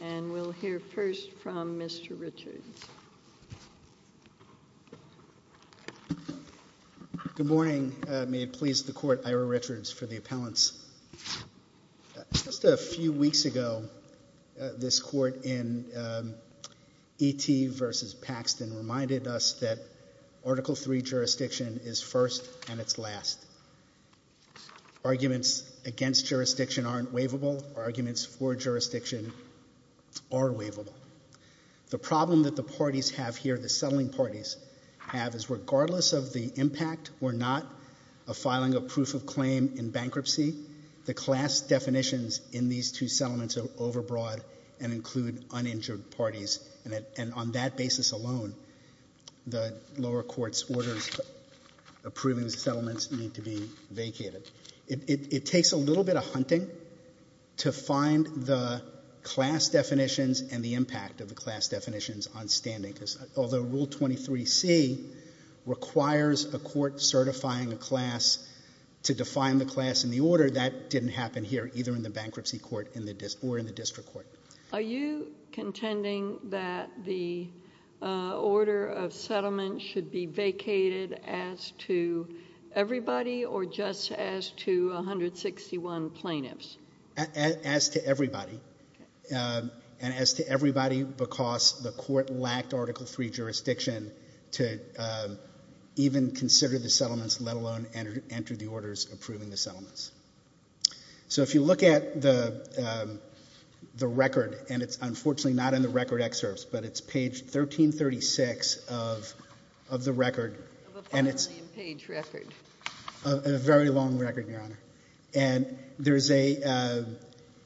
And we'll hear first from Mr. Richards. Good morning. May it please the court, Ira Richards for the appellants. Just a few weeks ago, this court in ET versus Paxton reminded us that Article III jurisdiction is first and it's last. Arguments against jurisdiction aren't waivable. All arguments for jurisdiction are waivable. The problem that the parties have here, the settling parties have, is regardless of the impact or not of filing a proof of claim in bankruptcy, the class definitions in these two settlements are overbroad and include uninjured parties. And on that basis alone, the lower court's orders approving settlements need to be vacated. It takes a little bit of hunting to find the class definitions and the impact of the class definitions on standing. Although Rule 23c requires a court certifying a class to define the class and the order, that didn't happen here, either in the bankruptcy court or in the district court. Are you contending that the order of settlement should be vacated as to everybody or just as to 161 plaintiffs? As to everybody. As to everybody because the court lacked Article III jurisdiction to even consider the settlements, let alone enter the orders approving the settlements. So if you look at the record, and it's unfortunately not in the record excerpts, but it's page 1336 of the record. And it's a very long record, Your Honor. And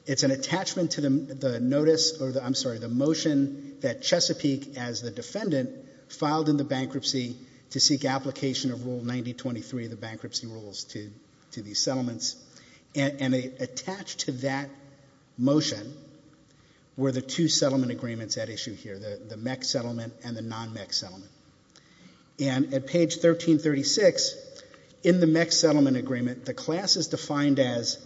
it's an attachment to the motion that Chesapeake, as the defendant, filed in the bankruptcy to seek application of Rule 9023 of the bankruptcy rules to these settlements. And attached to that motion were the two settlement agreements at issue here, the MEC settlement and the non-MEC settlement. And at page 1336, in the MEC settlement agreement, the class is defined as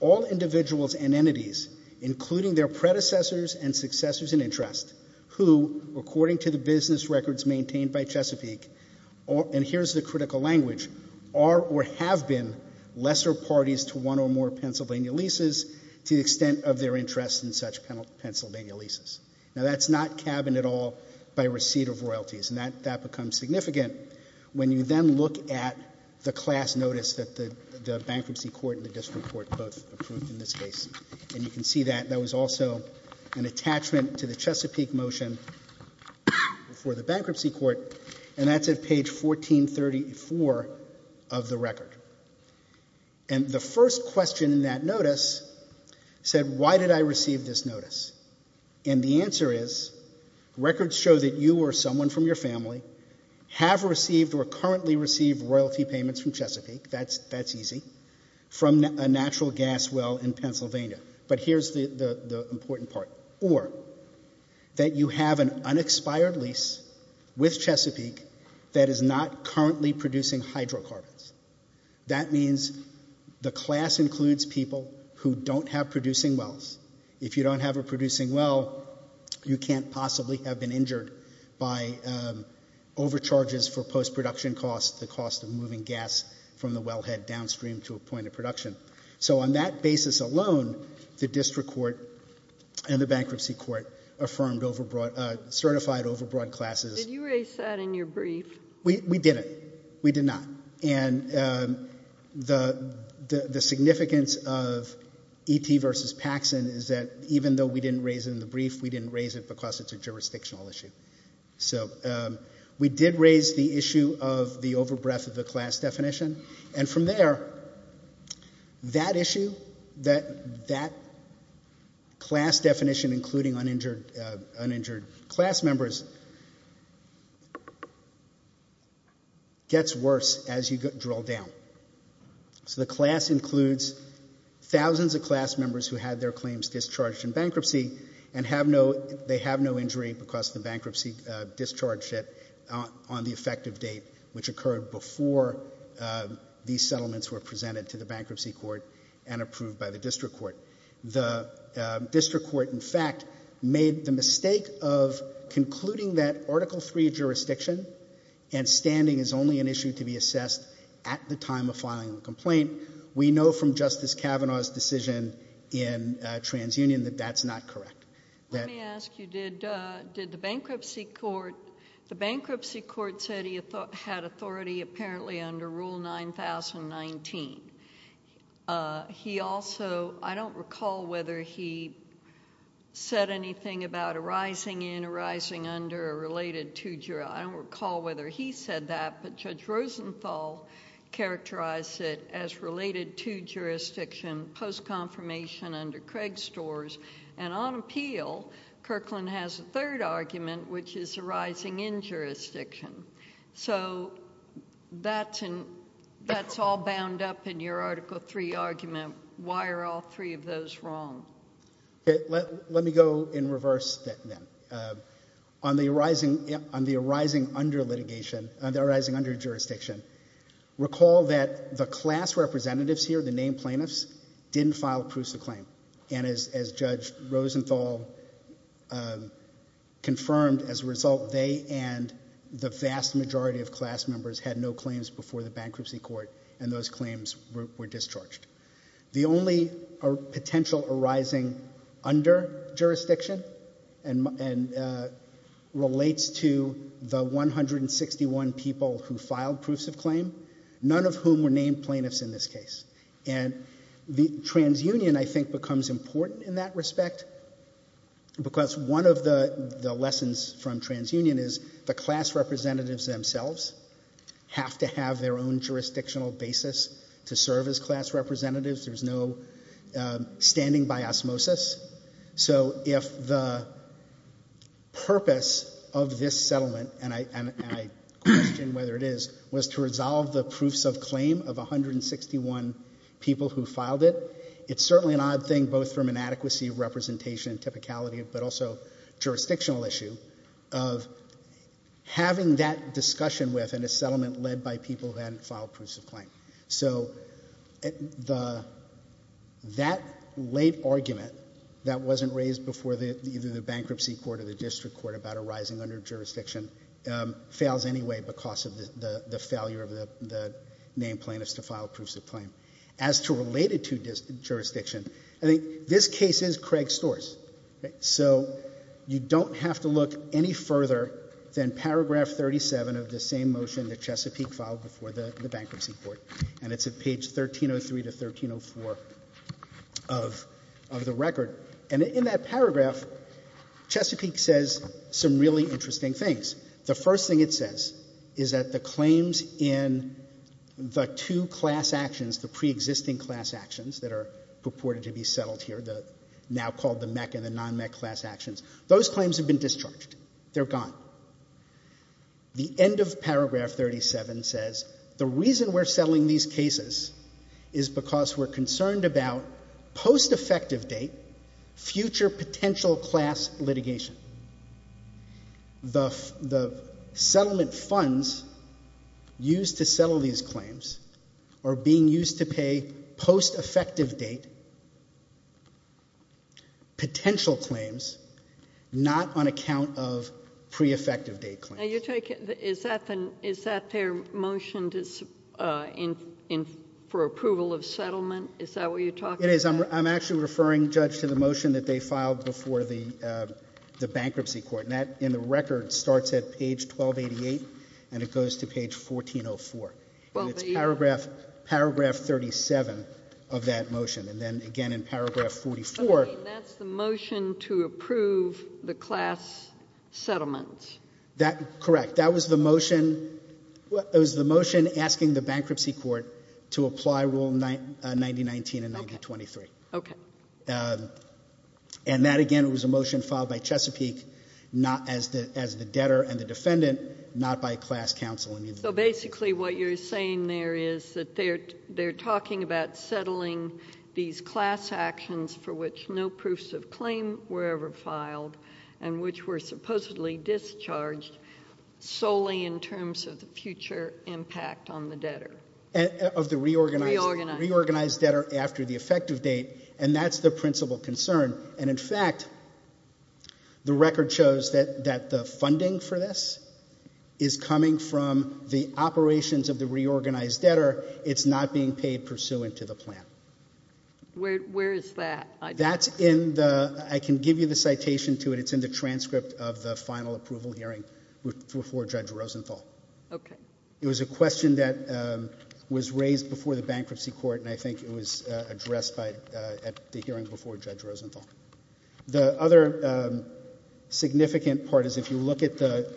all individuals and entities, including their predecessors and successors in interest, who according to the business records maintained by Chesapeake, and here's the critical language, are or have been lesser parties to one or more Pennsylvania leases to the extent of their interest in such Pennsylvania leases. Now that's not cabined at all by receipt of royalties, and that becomes significant when you then look at the class notice that the bankruptcy court and the district court put in this case. And you can see that that was also an attachment to the Chesapeake motion for the bankruptcy court, and that's at page 1434 of the record. And the first question in that notice said, why did I receive this notice? And the answer is, records show that you or someone from your family have received or currently receive royalty payments from Chesapeake, that's easy, from a natural gas well in Pennsylvania. But here's the important part. Or that you have an unexpired lease with Chesapeake that is not currently producing hydrocarbons. That means the class includes people who don't have producing wells. If you don't have a producing well, you can't possibly have been injured by overcharges for post-production costs, the cost of moving gas from the wellhead downstream to a point of production. So on that basis alone, the district court and the bankruptcy court affirmed certified overbroad classes. Did you erase that in your brief? We did it. We did not. And the significance of EP versus Paxson is that even though we didn't raise it in the brief, we didn't raise it because it's a jurisdictional issue. So we did raise the issue of the overbreath of the class definition. And from there, that issue, that class definition, including uninjured class members, gets worse as you draw down. So the class includes thousands of class members who had their claims discharged in bankruptcy, and they have no injury because the bankruptcy discharged it on the effective date, which occurred before these settlements were presented to the bankruptcy court and approved by the district court. The district court, in fact, made the mistake of concluding that Article III jurisdiction and standing is only an issue to be assessed at the time of filing the complaint. We know from Justice Kavanaugh's decision in TransUnion that that's not correct. Let me ask you, did the bankruptcy court say he had authority apparently under Rule 9019? He also, I don't recall whether he said anything about arising in, arising under, or related to jurisdiction. I don't recall whether he said that, but Judge Rosenthal characterized it as related to jurisdiction post-confirmation under Craigstors. And on appeal, Kirkland has a third argument, which is arising in jurisdiction. So that's all bound up in your Article III argument. Why are all three of those wrong? Let me go in reverse then. On the arising under jurisdiction, recall that the class representatives here, the named plaintiffs, didn't file proofs of claim. And as Judge Rosenthal confirmed as a result, they and the vast majority of class members had no claims before the bankruptcy court, and those claims were discharged. The only potential arising under jurisdiction relates to the 161 people who filed proofs of claim, none of whom were named plaintiffs in this case. And TransUnion, I think, becomes important in that respect, because one of the lessons from TransUnion is the class representatives themselves have to have their own jurisdictional basis to serve as class representatives. There's no standing by osmosis. So if the purpose of this settlement, and I question whether it is, was to resolve the proofs of claim of 161 people who filed it, it's certainly an odd thing, both from inadequacy of representation and typicality, but also jurisdictional issue, of having that discussion with, and a settlement led by people then filed proofs of claim. So that late argument that wasn't raised before either the bankruptcy court or the district court about arising under jurisdiction fails anyway because of the failure of the named plaintiffs to file proofs of claim. As to related to jurisdiction, I think this case is Craig's source. So you don't have to look any further than paragraph 37 of the same motion that Chesapeake filed before the bankruptcy court. And it's at page 1303 to 1304 of the record. And in that paragraph, Chesapeake says some really interesting things. The first thing it says is that the claims in the two class actions, the pre-existing class actions that are purported to be settled here, the now called the MEC and the non-MEC class actions, those claims have been discharged. They're gone. The end of paragraph 37 says the reason we're settling these cases is because we're concerned about post-effective date, future potential class litigation. The settlement funds used to settle these claims are being used to pay post-effective date potential claims, not on account of pre-effective date claims. Now you're taking, is that their motion for approval of settlement? Is that what you're talking about? It is. I'm actually referring, Judge, to the motion that they filed before the bankruptcy court. And that in the record starts at page 1288 and it goes to page 1404. And it's paragraph 37 of that motion. And then again in paragraph 44. That's the motion to approve the class settlements. That, correct. That was the motion asking the bankruptcy court to apply rule 9019 and 9023. Okay. And that again was a motion filed by Chesapeake not as the debtor and the defendant, not by class counsel. So basically what you're saying there is that they're talking about settling these class actions for which no proofs of claim were ever filed and which were supposedly discharged solely in terms of the future impact on the debtor. Of the reorganized debtor after the effective date. And that's the principal concern. And in fact, the record shows that the funding for this is coming from the operations of the reorganized debtor. It's not being paid pursuant to the plan. Where is that? That's in the, I can give you the citation to it. It's in the transcript of the final approval hearing before Judge Rosenthal. Okay. It was a question that was raised before the bankruptcy court. And I think it was addressed at the hearing before Judge Rosenthal. The other significant part is if you look at the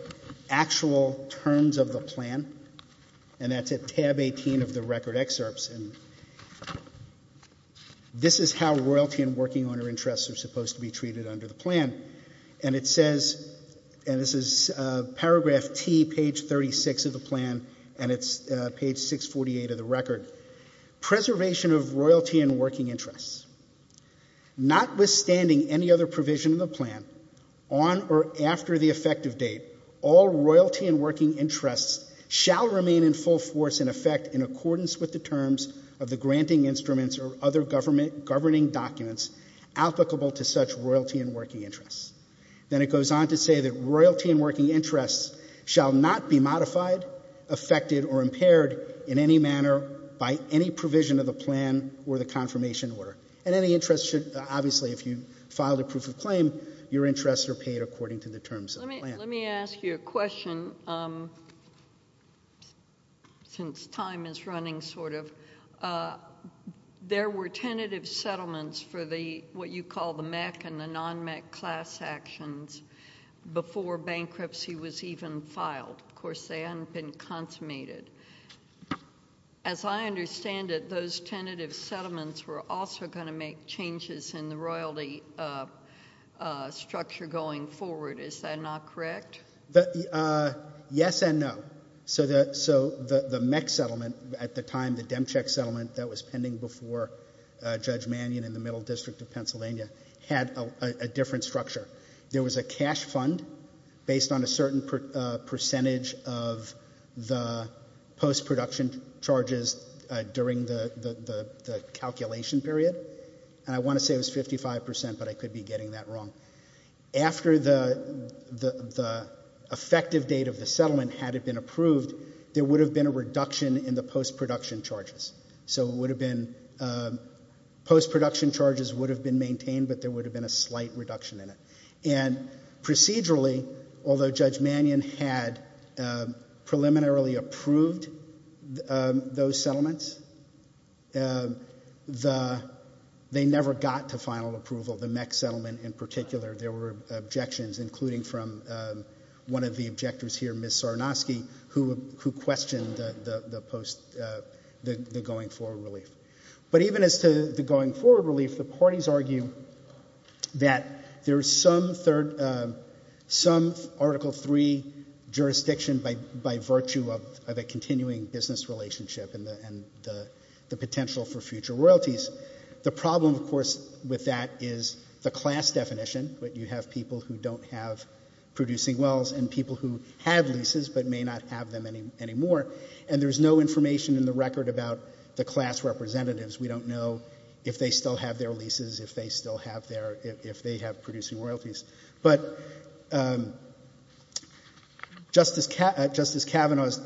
actual terms of the plan. And that's at tab 18 of the record excerpts. And this is how royalty and working owner interests are supposed to be treated under the plan. And it says, and this is paragraph T, page 36 of the plan. And it's page 648 of the record. Preservation of royalty and working interests. Notwithstanding any other provision in the plan on or after the effective date, all royalty and working interests shall remain in full force in effect in accordance with the terms of the granting instruments or other governing documents applicable to such royalty and working interests. Then it goes on to say that royalty and working interests shall not be modified, affected, or impaired in any manner by any provision of the plan or the confirmation order. And any interest should, obviously, if you filed a proof of claim, your interests are paid according to the terms of the plan. Let me ask you a question, since time is running sort of. There were tentative settlements for the, what you call the MEC and the non-MEC class actions before bankruptcy was even filed. Of course, they hadn't been consummated. As I understand it, those tentative settlements were also gonna make changes in the royalty structure going forward. Is that not correct? Yes and no. So the MEC settlement at the time, the Demcheck settlement that was pending before Judge Mannion in the Middle District of Pennsylvania had a different structure. There was a cash fund based on a certain percentage of the post-production charges during the calculation period. And I wanna say it was 55%, but I could be getting that wrong. After the effective date of the settlement had it been approved, there would have been a reduction in the post-production charges. So it would have been, post-production charges would have been maintained, but there would have been a slight reduction in it. And procedurally, although Judge Mannion had preliminarily approved those settlements, they never got to final approval, the MEC settlement in particular. There were objections, including from one of the objectors here, Ms. Sarnosky, who questioned the going forward relief. But even as to the going forward relief, the parties argue that there's some Article III jurisdiction by virtue of a continuing business relationship and the potential for future royalties. The problem, of course, with that is the class definition, that you have people who don't have producing wells and people who have leases but may not have them anymore. And there's no information in the record about the class representatives. We don't know if they still have their leases, if they still have their, if they have producing royalties. But Justice Kavanaugh's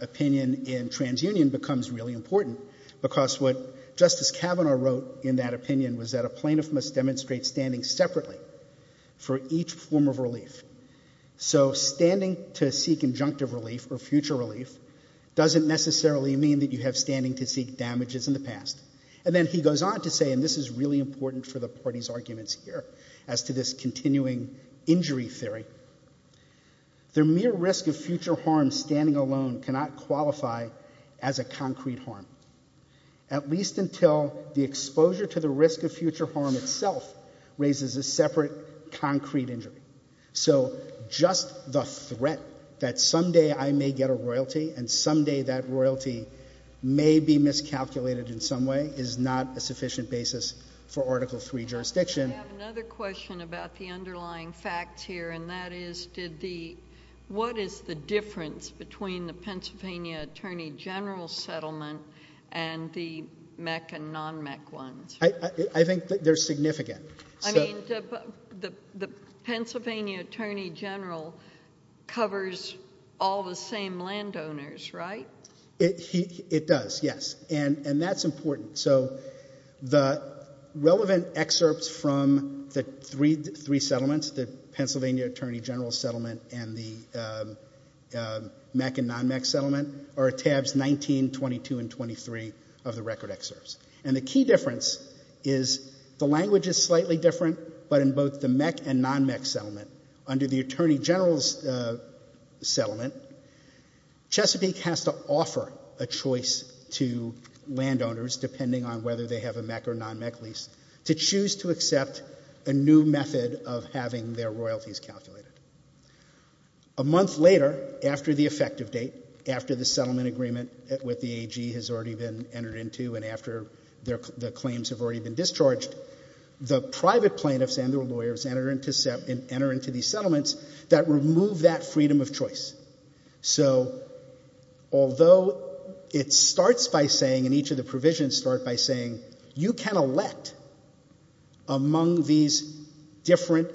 opinion in TransUnion becomes really important, because what Justice Kavanaugh wrote in that opinion was that a plaintiff must demonstrate standing separately for each form of relief. So standing to seek injunctive relief or future relief doesn't necessarily mean that you have standing to seek damages in the past. And then he goes on to say, and this is really important for the parties' arguments here as to this continuing injury theory, the mere risk of future harm standing alone cannot qualify as a concrete harm, at least until the exposure to the risk of future harm itself raises a separate concrete injury. So just the threat that someday I may get a royalty and someday that royalty may be miscalculated in some way is not a sufficient basis for Article III jurisdiction. I have another question about the underlying facts here, and that is did the, what is the difference between the Pennsylvania Attorney General's settlement and the MEC and non-MEC ones? I think they're significant. I mean, the Pennsylvania Attorney General covers all the same landowners, right? It does, yes, and that's important. the Pennsylvania Attorney General's settlement and the MEC and non-MEC settlement are tabs 19, 22, and 23 of the record excerpts. And the key difference is the language is slightly different, but in both the MEC and non-MEC settlement, under the Attorney General's settlement, Chesapeake has to offer a choice to landowners, depending on whether they have a MEC or non-MEC lease, to choose to accept a new method of having their royalties calculated. A month later, after the effective date, after the settlement agreement with the AG has already been entered into, and after their claims have already been discharged, the private plaintiffs and their lawyers enter into these settlements that remove that freedom of choice. So although it starts by saying, and each of the provisions start by saying, you can elect among these different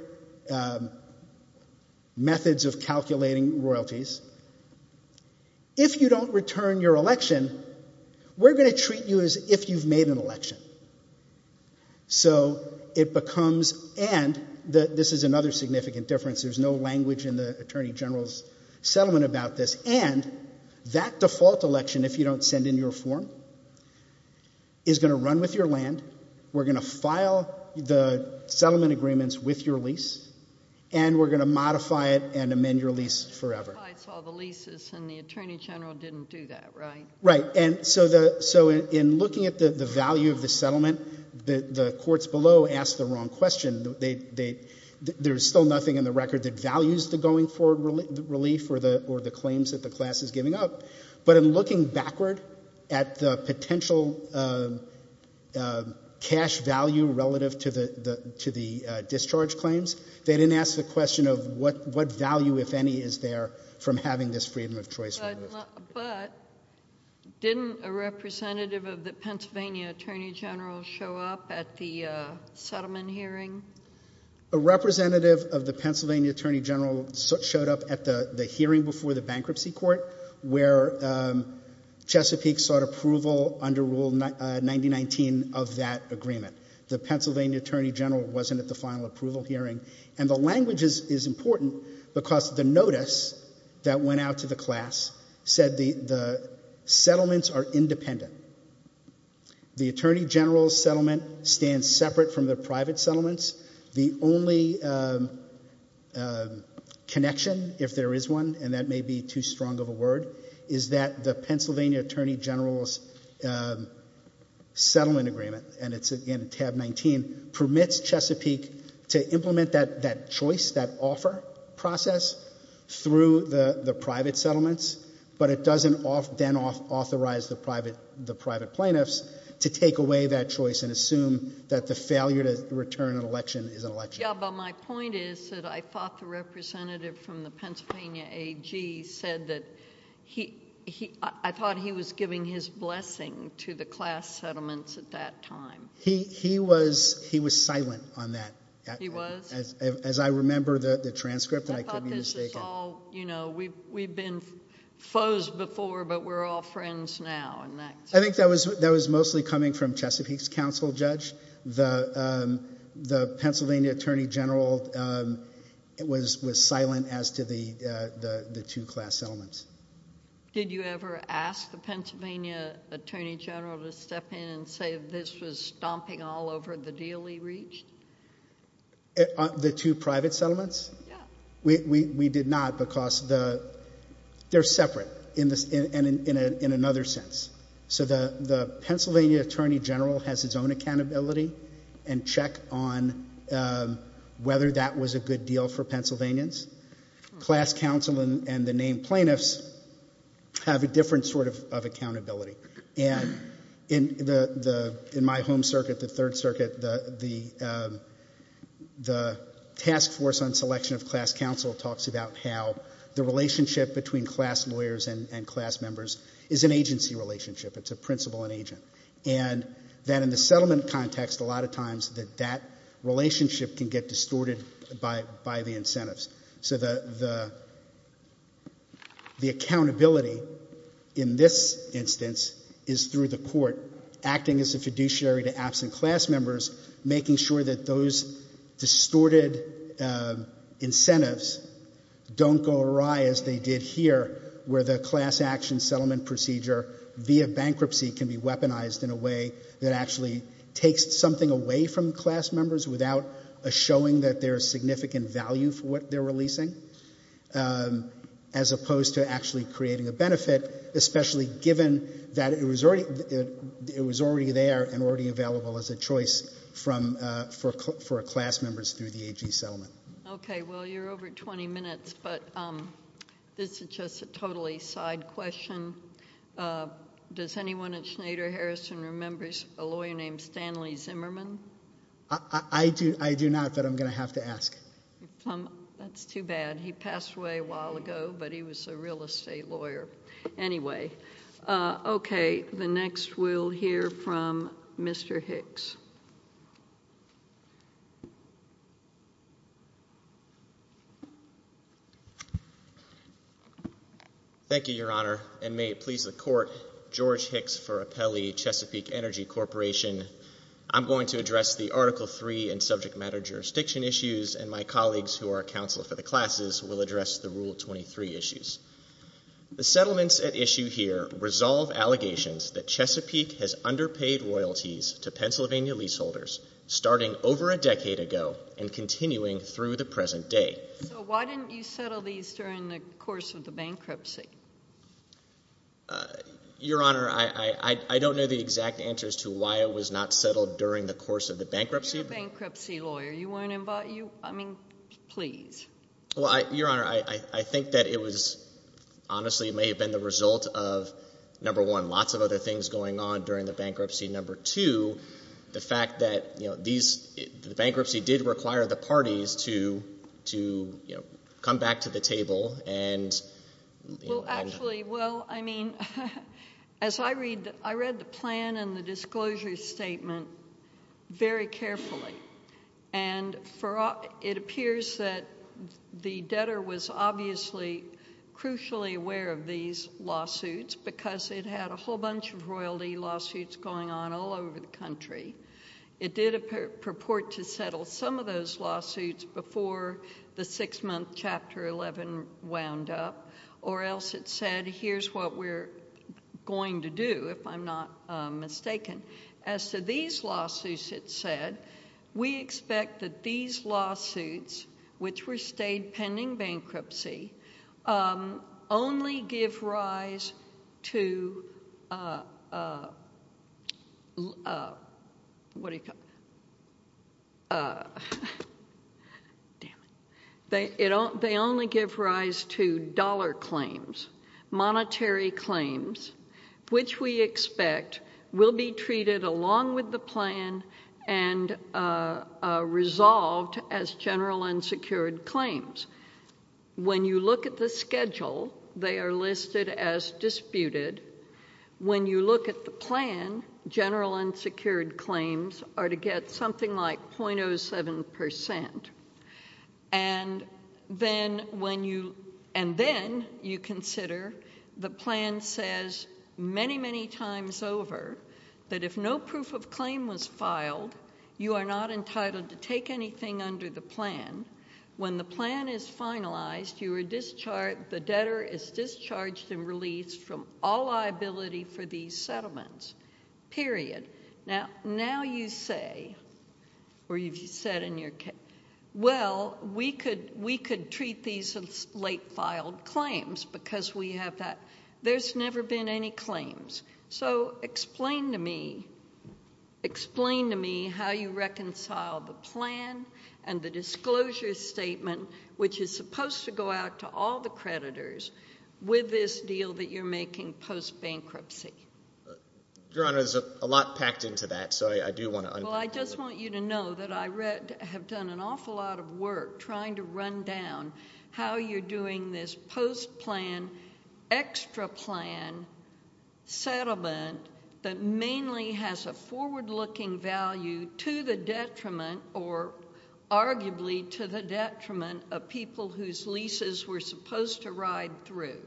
methods of calculating royalties. If you don't return your election, we're gonna treat you as if you've made an election. So it becomes, and this is another significant difference, there's no language in the Attorney General's settlement about this, and that default election, if you don't send in your form, is gonna run with your land, we're gonna file the settlement agreements with your lease, and we're gonna modify it and amend your lease forever. I saw the leases and the Attorney General didn't do that, right? Right, and so in looking at the value of the settlement, the courts below asked the wrong question. There's still nothing in the record that values the going forward relief or the claims that the class is giving up, but in looking backward at the potential cash value relative to the discharge claims, they didn't ask the question of what value, if any, is there from having this freedom of choice? But didn't a representative of the Pennsylvania Attorney General show up at the settlement hearing? A representative of the Pennsylvania Attorney General showed up at the hearing before the bankruptcy court where Chesapeake sought approval under Rule 9019 of that agreement. The Pennsylvania Attorney General wasn't at the final approval hearing, and the language is important because the notice that went out to the class said the settlements are independent. The Attorney General's settlement stands separate from the private settlements. The only connection, if there is one, and that may be too strong of a word, is that the Pennsylvania Attorney General's in tab 19 permits Chesapeake to implement that choice, that offer process through the private settlements, but it doesn't then authorize the private plaintiffs to take away that choice and assume that the failure to return an election is an election. Yeah, but my point is that I thought the representative from the Pennsylvania AG said that he, I thought he was giving his blessing to the class settlements at that time. He was silent on that. He was? As I remember the transcript that I put in his statement. I thought this is all, you know, we've been foes before, but we're all friends now. I think that was mostly coming from Chesapeake's counsel, Judge. The Pennsylvania Attorney General was silent as to the two class settlements. Did you ever ask the Pennsylvania Attorney General to step in and say this was stomping all over the deal he reached? The two private settlements? Yeah. We did not because they're separate in another sense. So the Pennsylvania Attorney General has his own accountability and check on whether that was a good deal for Pennsylvanians. Class counsel and the named plaintiffs have a different sort of accountability. And in my home circuit, the third circuit, the task force on selection of class counsel talks about how the relationship between class lawyers and class members is an agency relationship. It's a principal and agent. And then in the settlement context, a lot of times that that relationship can get distorted by the incentives. So the accountability in this instance is through the court acting as a fiduciary to absent class members, making sure that those distorted incentives don't go awry as they did here, where the class action settlement procedure via bankruptcy can be weaponized in a way that actually takes something away from class members without a showing that there's significant value for what they're releasing, as opposed to actually creating a benefit, especially given that it was already there and already available as a choice for class members through the AG settlement. Okay, well, you're over 20 minutes, but this is just a totally side question. Does anyone at Schneider Harrison remember a lawyer named Stanley Zimmerman? I do not, but I'm gonna have to ask. That's too bad. He passed away a while ago, but he was a real estate lawyer. Anyway, okay, the next we'll hear from Mr. Hicks. Thank you, Your Honor, and may it please the court, George Hicks for Apelli Chesapeake Energy Corporation. I'm going to address the Article III and subject matter jurisdiction issues, and my colleagues who are counsel for the classes will address the Rule 23 issues. The settlements at issue here resolve allegations that Chesapeake has underpaid royalties to Pennsylvania leaseholders, starting over a decade ago and continuing through the present day. So why didn't you settle these during the course of the bankruptcy? Your Honor, I don't know the exact answers to why it was not settled during the course of the bankruptcy. Bankruptcy lawyer, you weren't involved, I mean, please. Well, Your Honor, I think that it was, honestly, it may have been the result of, number one, lots of other things going on during the bankruptcy. Number two, the fact that the bankruptcy did require the parties to come back to the table and- Well, actually, well, I mean, as I read, I read the plan and the disclosure statement very carefully, and it appears that the debtor was obviously crucially aware of these lawsuits because it had a whole bunch of royalty lawsuits going on all over the country. It did purport to settle some of those lawsuits before the six-month Chapter 11 wound up, or else it said, here's what we're going to do, if I'm not mistaken. As to these lawsuits, it said, we expect that these lawsuits, which were stayed pending bankruptcy, only give rise to, what do you call it? They only give rise to dollar claims, monetary claims, which we expect will be treated along with the plan and resolved as general unsecured claims. When you look at the schedule, they are listed as disputed. When you look at the plan, general unsecured claims are to get something like 0.07%. And then you consider, the plan says many, many times over that if no proof of claim was filed, you are not entitled to take anything under the plan. When the plan is finalized, the debtor is discharged and released from all liability for these settlements, period. Now you say, or you've said in your case, well, we could treat these as late filed claims because we have that. There's never been any claims. So explain to me, explain to me how you reconcile the plan and the disclosure statement, which is supposed to go out to all the creditors with this deal that you're making post-bankruptcy. Your Honor, there's a lot packed into that. So I do want to- Well, I just want you to know that I have done an awful lot of work trying to run down how you're doing this post-plan, extra-plan settlement that mainly has a forward-looking value to the detriment or arguably to the detriment of people whose leases were supposed to ride through.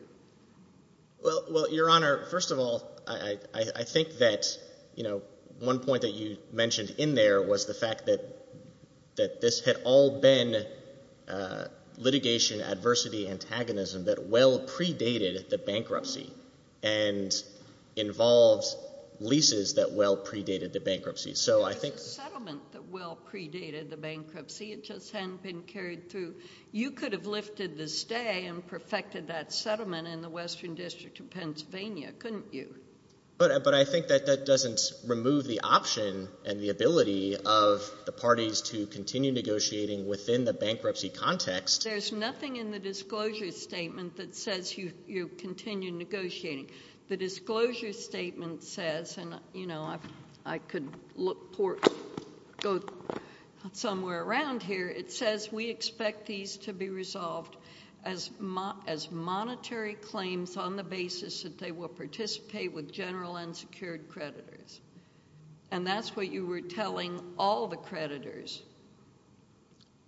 Well, Your Honor, first of all, I think that one point that you mentioned in there was the fact that this had all been litigation, adversity, and antagonism that well-predated the bankruptcy and involves leases that well-predated the bankruptcy. So I think- Settlement that well-predated the bankruptcy. It just hadn't been carried through. You could have lifted the stay and perfected that settlement in the Western District of Pennsylvania, couldn't you? But I think that that doesn't remove the option and the ability of the parties to continue negotiating within the bankruptcy context. There's nothing in the disclosure statement that says you continue negotiating. The disclosure statement says, and I could go somewhere around here, it says we expect these to be resolved as monetary claims on the basis that they will participate with general unsecured creditors. And that's what you were telling all the creditors.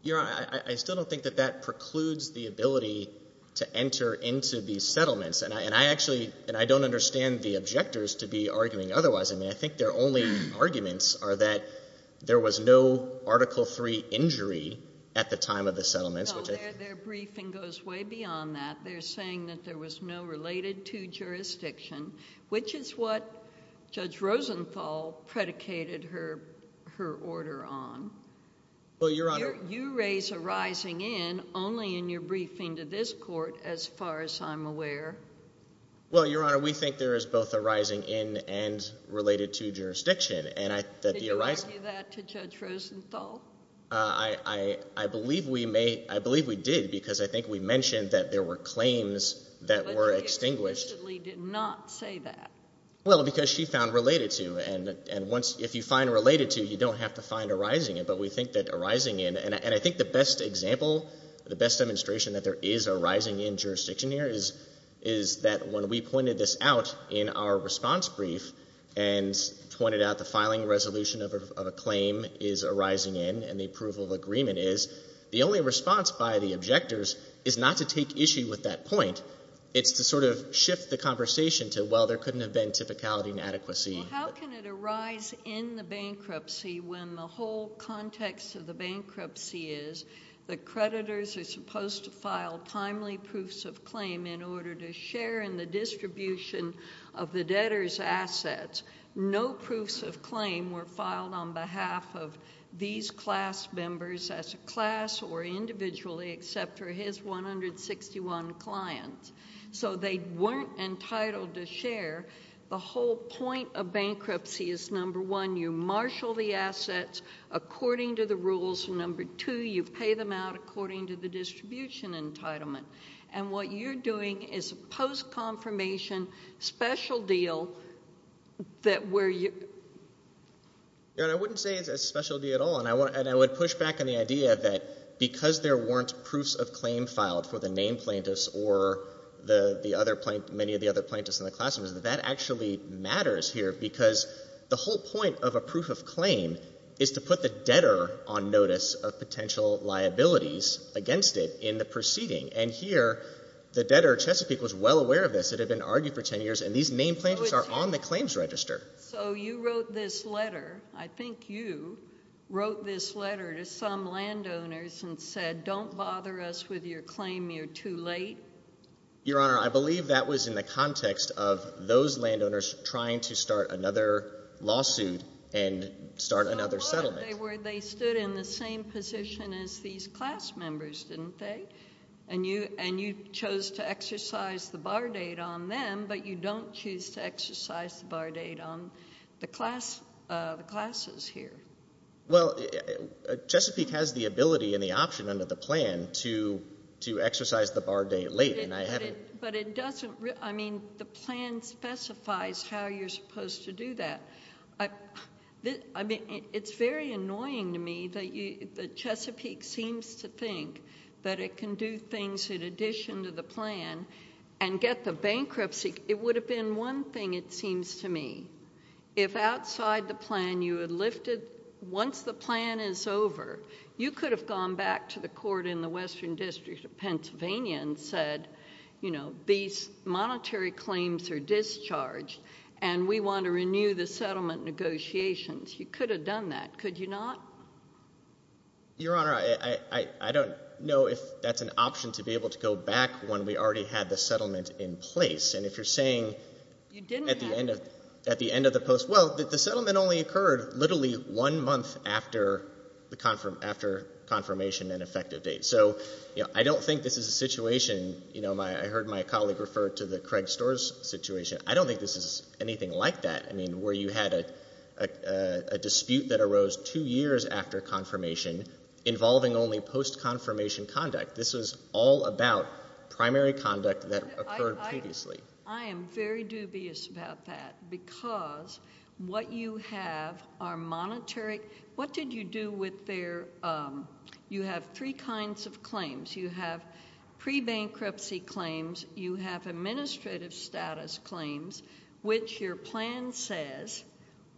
Your Honor, I still don't think that that precludes the ability to enter into these settlements. And I actually, and I don't understand the objectors to be arguing otherwise. I mean, I think their only arguments are that there was no Article III injury at the time of the settlement. No, their briefing goes way beyond that. They're saying that there was no related to jurisdiction, which is what Judge Rosenthal predicated her order on. Well, Your Honor. You raise a rising in only in your briefing to this court, as far as I'm aware. Well, Your Honor, we think there is both a rising in and related to jurisdiction. And I think that the arising- Did you argue that to Judge Rosenthal? I believe we did, because I think we mentioned that there were claims that were extinguished. I legitimately did not say that. Well, because she found related to. And if you find related to, you don't have to find a rising in. But we think that a rising in, and I think the best example, the best demonstration that there is a rising in jurisdiction here is that when we pointed this out in our response brief, and pointed out the filing resolution of a claim is a rising in, and the approval agreement is, the only response by the objectors is not to take issue with that point. It's to sort of shift the conversation to, well, there couldn't have been typicality and adequacy. How can it arise in the bankruptcy when the whole context of the bankruptcy is the creditors are supposed to file timely proofs of claim in order to share in the distribution of the debtor's assets. No proofs of claim were filed on behalf of these class members as a class or individually except for his 161 clients. So they weren't entitled to share. The whole point of bankruptcy is number one, you marshal the assets according to the rules. And number two, you pay them out according to the distribution entitlement. And what you're doing is a post-confirmation special deal that where you. Yeah, I wouldn't say it's a special deal at all. And I would push back on the idea that because there weren't proofs of claim filed for the name plaintiffs or the other plaintiffs, many of the other plaintiffs in the class, that actually matters here because the whole point of a proof of claim is to put the debtor on notice of potential liabilities against it in the proceeding. And here, the debtor, Chesapeake, was well aware of this. It had been argued for 10 years. And these name plaintiffs are on the claims register. So you wrote this letter. I think you wrote this letter to some landowners and said, don't bother us with your claim. You're too late. Your Honor, I believe that was in the context of those landowners trying to start another lawsuit and start another settlement. They stood in the same position as these class members, didn't they? And you chose to exercise the bar date on them, but you don't choose to exercise the bar date on the classes here. Well, Chesapeake has the ability and the option under the plan to exercise the bar date late. But it doesn't, I mean, the plan specifies how you're supposed to do that. I mean, it's very annoying to me that Chesapeake seems to think that it can do things in addition to the plan and get the bankruptcy. It would have been one thing, it seems to me. If outside the plan, you had lifted, once the plan is over, you could have gone back to the court in the Western District of Pennsylvania and said, you know, these monetary claims are discharged and we want to renew the settlement negotiations. You could have done that, could you not? Your Honor, I don't know if that's an option to be able to go back when we already had the settlement in place. And if you're saying at the end of the post, well, the settlement only occurred literally one month after confirmation and effective date. So, you know, I don't think this is a situation, you know, I heard my colleague refer to the Craig Storrs situation. I don't think this is anything like that. I mean, where you had a dispute that arose two years after confirmation involving only post-confirmation conduct. This is all about primary conduct that occurred previously. I am very dubious about that because what you have are monetary, what did you do with their, you have three kinds of claims. You have pre-bankruptcy claims, you have administrative status claims, which your plan says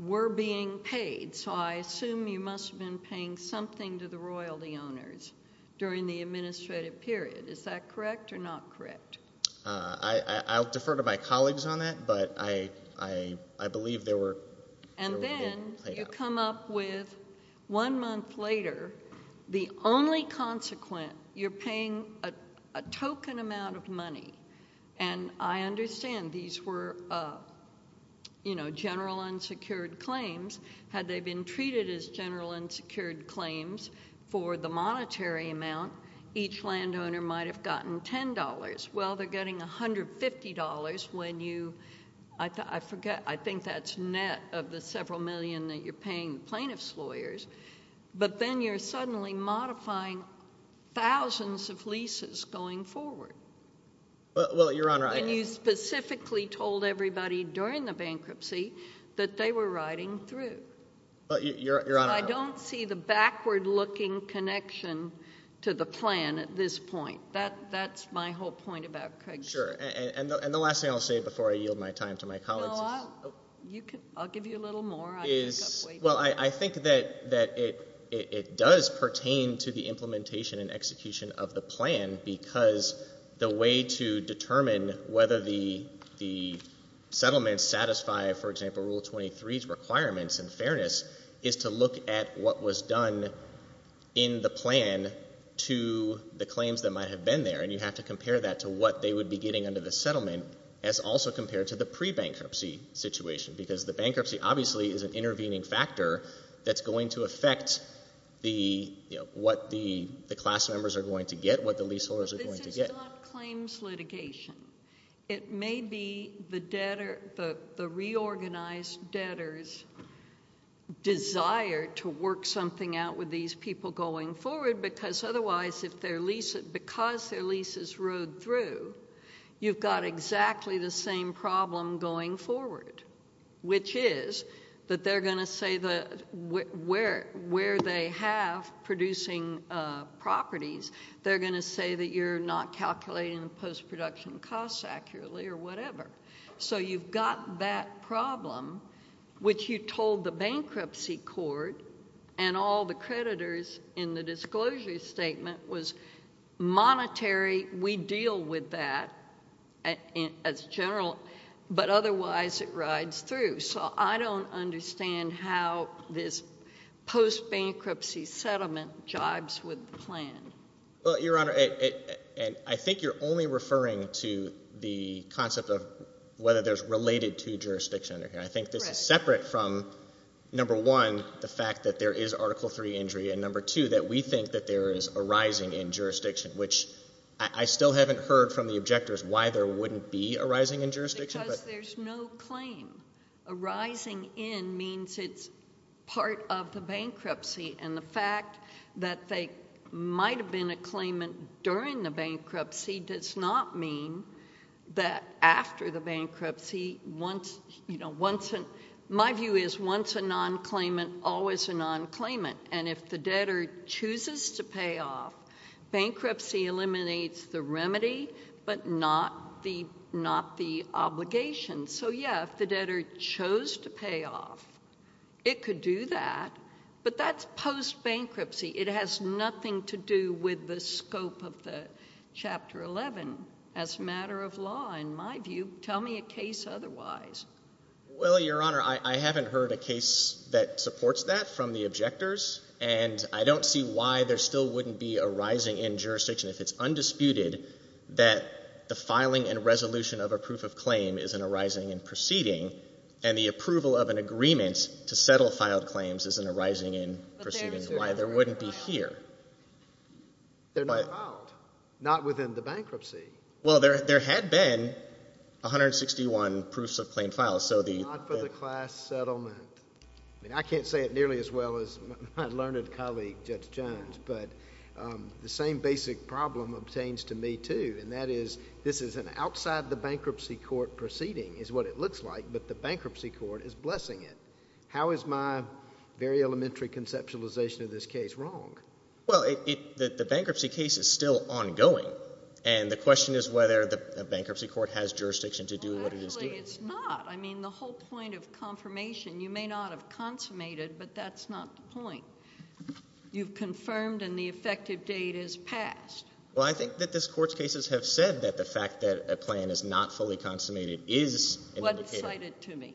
were being paid. So I assume you must have been paying something to the royalty owners during the administrative period. Is that correct or not correct? I'll defer to my colleagues on that, but I believe there were... And then you come up with one month later, the only consequent, you're paying a token amount of money. And I understand these were, you know, general unsecured claims, had they been treated as general unsecured claims for the monetary amount, each landowner might've gotten $10. Well, they're getting $150 when you, I forget, I think that's net of the several million that you're paying plaintiff's lawyers, but then you're suddenly modifying thousands of leases going forward. Well, Your Honor, I... And you specifically told everybody during the bankruptcy that they were riding through. But Your Honor... And I don't see the backward looking connection to the plan at this point. That's my whole point about Craig's... Sure, and the last thing I'll say before I yield my time to my colleagues... Well, I'll give you a little more. Well, I think that it does pertain to the implementation and execution of the plan because the way to determine whether the settlement satisfy, for example, Rule 23's requirements and fairness is to look at what was done in the plan to the claims that might have been there. And you have to compare that to what they would be getting under the settlement as also compared to the pre-bankruptcy situation because the bankruptcy obviously is an intervening factor that's going to affect the, you know, what the class members are going to get, what the leaseholders are going to get. In the bill of claims litigation, it may be the debtor, the reorganized debtor's desire to work something out with these people going forward because otherwise, if their lease, because their lease is rode through, you've got exactly the same problem going forward, which is that they're going to say that where they have producing properties, they're going to say that you're not calculating the post-production costs accurately or whatever. So you've got that problem, which you told the bankruptcy court and all the creditors in the disclosure statement was monetary, we deal with that as general, but otherwise, it rides through. So I don't understand how this post-bankruptcy settlement jobs would plan. Well, Your Honor, and I think you're only referring to the concept of whether there's related to jurisdiction. I think that's separate from, number one, the fact that there is Article III injury, and number two, that we think that there is a rising in jurisdiction, which I still haven't heard from the objectors why there wouldn't be a rising in jurisdiction. Because there's no claim. A rising in means it's part of the bankruptcy and the fact that they might have been a claimant during the bankruptcy does not mean that after the bankruptcy, my view is once a non-claimant, always a non-claimant. And if the debtor chooses to pay off, bankruptcy eliminates the remedy, but not the obligation. So yeah, if the debtor chose to pay off, it could do that, but that's post-bankruptcy. It has nothing to do with the scope of the Chapter 11 as a matter of law, in my view. Tell me a case otherwise. Well, Your Honor, I haven't heard a case that supports that from the objectors, and I don't see why there still wouldn't be a rising in jurisdiction. If it's undisputed that a filing and resolution of a proof of claim is an arising and proceeding, and the approval of an agreement to settle filed claims is an arising and proceeding, why there wouldn't be here? They're not allowed. Not within the bankruptcy. Well, there had been 161 proofs of plain file, so the- Not for the class settlement. I mean, I can't say it nearly as well as my learned colleague, Judge Jones, but the same basic problem obtains to me too, and that is this is an outside the bankruptcy court proceeding is what it looks like, but the bankruptcy court is blessing it. How is my very elementary conceptualization of this case wrong? Well, the bankruptcy case is still ongoing, and the question is whether the bankruptcy court has jurisdiction to do what it is doing. Well, actually, it's not. I mean, the whole point of confirmation, you may not have consummated, but that's not the point. You've confirmed, and the effective date is passed. Well, I think that this court's cases have said that the fact that a plan is not fully consummated is an indicator- What's cited to me?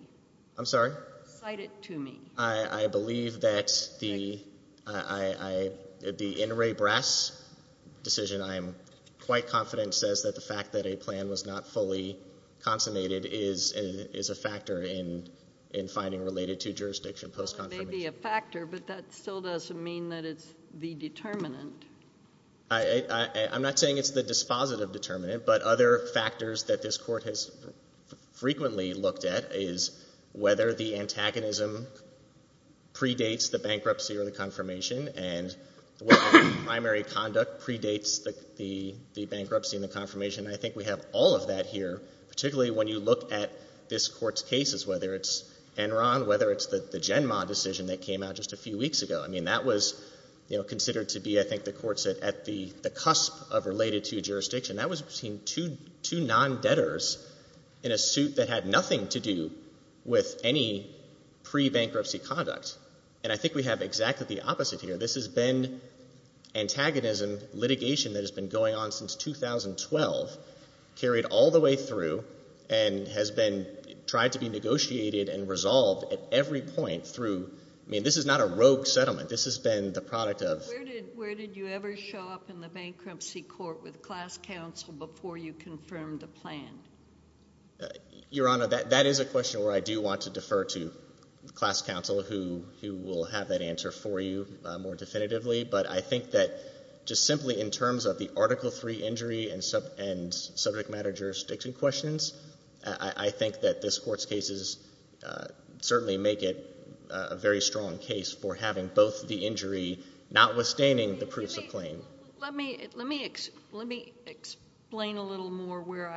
I'm sorry? Cited to me. I believe that the Inouye-Brass decision, I'm quite confident, says that the fact that a plan was not fully consummated is a factor in finding related to jurisdiction post-confirmation. Well, it may be a factor, but that still doesn't mean that it's the determinant. I'm not saying it's the dispositive determinant, but other factors that this court has frequently looked at is whether the antagonism predates the bankruptcy or the confirmation, and whether primary conduct predates the bankruptcy and the confirmation. I think we have all of that here, particularly when you look at this court's cases, whether it's Enron, whether it's the Genma decision that came out just a few weeks ago. I mean, that was considered to be, I think, the courts at the cusp of related to jurisdiction. That was seen two non-debtors in a suit that had nothing to do with any pre-bankruptcy conducts. And I think we have exactly the opposite here. This has been antagonism litigation that has been going on since 2012, carried all the way through, and has been, tried to be negotiated and resolved at every point through, I mean, this is not a rogue settlement. This has been the product of. Where did you ever show up in the bankruptcy court with class counsel before you confirmed the plan? Your Honor, that is a question where I do want to defer to class counsel who will have that answer for you more definitively. But I think that just simply in terms of the Article III injury and subject matter jurisdiction questions, I think that this court's cases certainly make it a very strong case for having both the injury not withstanding the proofs of claim. Let me explain a little more where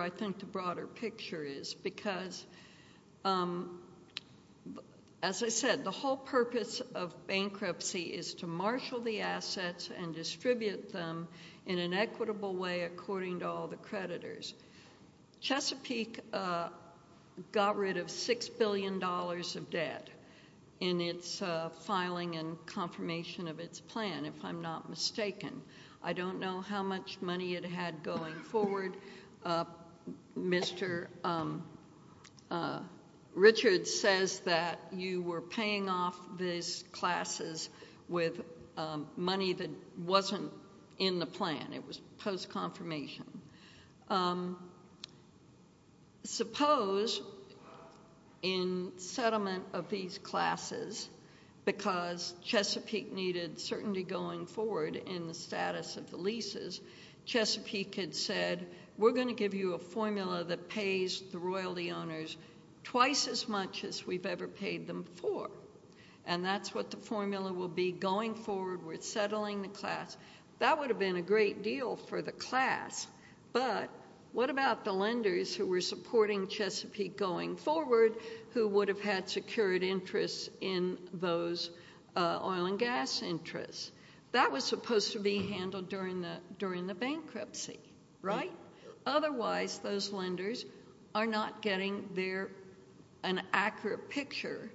I think the broader picture is, because as I said, the whole purpose of bankruptcy is to marshal the assets and distribute them in an equitable way according to all the creditors. Chesapeake got rid of $6 billion of debt in its filing and confirmation of its plan, if I'm not mistaken. I don't know how much money it had going forward. Mr. Richards says that you were paying off these classes with money that wasn't in the plan. It was post-confirmation. Um, suppose in settlement of these classes because Chesapeake needed certainty going forward in the status of the leases, Chesapeake had said, we're gonna give you a formula that pays the royalty owners twice as much as we've ever paid them for. And that's what the formula will be going forward with settling the class. That would have been a great deal for the class, but what about the lenders who were supporting Chesapeake going forward who would have had secured interests in those oil and gas interests? That was supposed to be handled during the bankruptcy, right? Otherwise, those lenders are not getting there an accurate picture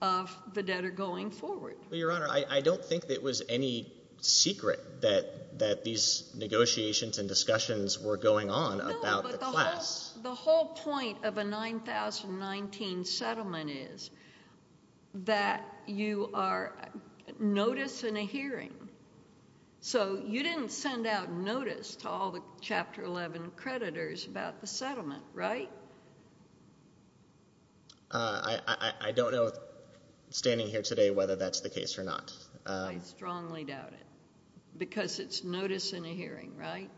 of the debtor going forward. Your Honor, I don't think it was any secret that these negotiations and discussions were going on about the class. The whole point of a 9,019 settlement is that you are noticing a hearing. So you didn't send out notice to all the Chapter 11 creditors about the settlement, right? I don't know, standing here today, whether that's the case or not. I strongly doubt it. Because it's notice and a hearing, right?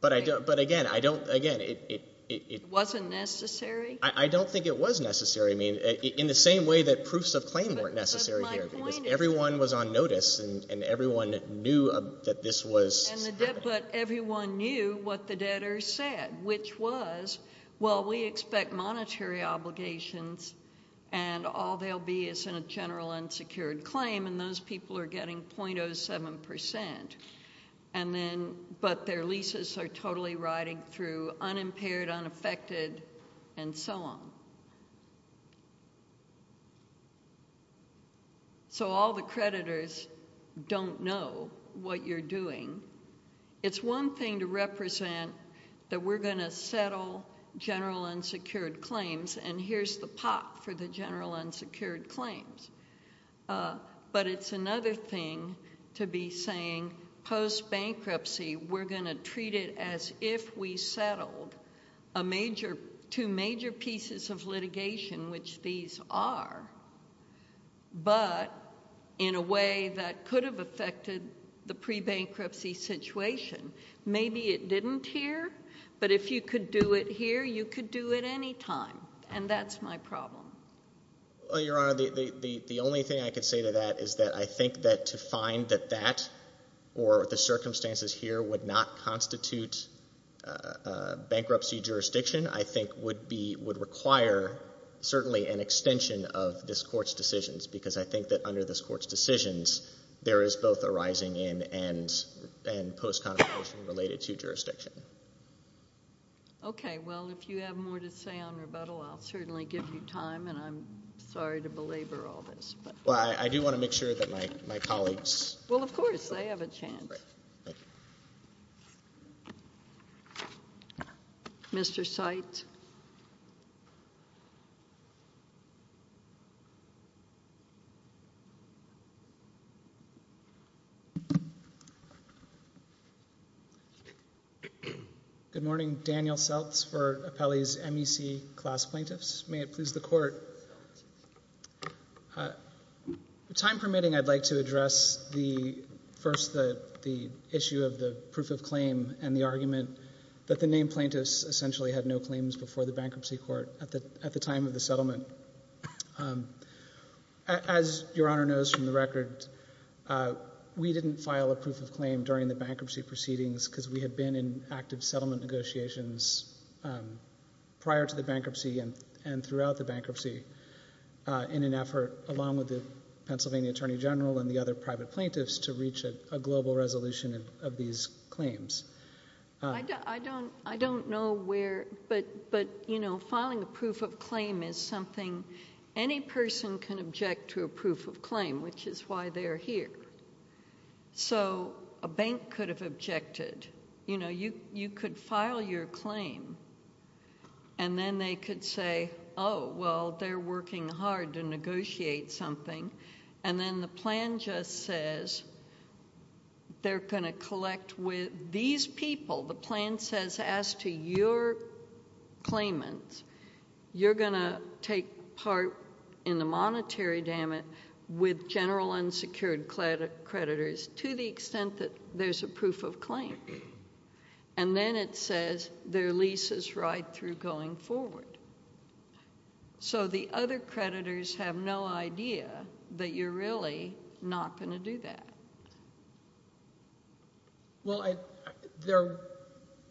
But again, I don't, again, it... Wasn't necessary? I don't think it was necessary. I mean, in the same way that proofs of claim weren't necessary here. Everyone was on notice and everyone knew that this was... And the debtor, everyone knew what the debtor said, which was, well, we expect monetary obligations and all they'll be is in a general unsecured claim and those people are getting 0.07%. And then, but their leases are totally riding through unimpaired, unaffected, and so on. So all the creditors don't know what you're doing. It's one thing to represent that we're gonna settle general unsecured claims and here's the pot for the general unsecured claims. But it's another thing to be saying, post-bankruptcy, we're gonna treat it as if we settled a major, two major pieces of litigation, which these are, but in a way that could have affected the pre-bankruptcy situation. Maybe it didn't here, but if you could do it here, you could do it anytime and that's my problem. Well, Your Honor, the only thing I could say to that is that I think that to find that that, or the circumstances here would not constitute bankruptcy jurisdiction, I think would be, would require certainly an extension of this court's decisions, because I think that under this court's decisions, there is both a rising in and post-confrontation related to jurisdiction. That's it. Okay, well, if you have more to say on rebuttal, I'll certainly give you time and I'm sorry to belabor all this. Well, I do wanna make sure that my colleagues. Well, of course, they have a chance. Mr. Seitz. Good morning. Daniel Seitz for Appellee's MEC Class Plaintiffs. May it please the court. Time permitting, I'd like to address the, first, the issue of the proof of claim and the argument that the named plaintiffs essentially had no claims before the bankruptcy court at the time of the settlement. As Your Honor knows from the record, we didn't file a proof of claim during the bankruptcy proceedings because we had been in active settlement negotiations prior to the bankruptcy and throughout the bankruptcy in an effort along with the Pennsylvania Attorney General and the other private plaintiffs to reach a global resolution of these claims. I don't know where, but filing a proof of claim is something, any person can object to a proof of claim, which is why they're here. So a bank could have objected. You know, you could file your claim and then they could say, oh, well, they're working hard to negotiate something and then the plan just says they're gonna collect with these people. The plan says, as to your claimants, you're gonna take part in the monetary damage with general unsecured creditors to the extent that there's a proof of claim. And then it says their lease is right through going forward. So the other creditors have no idea that you're really not gonna do that. Well,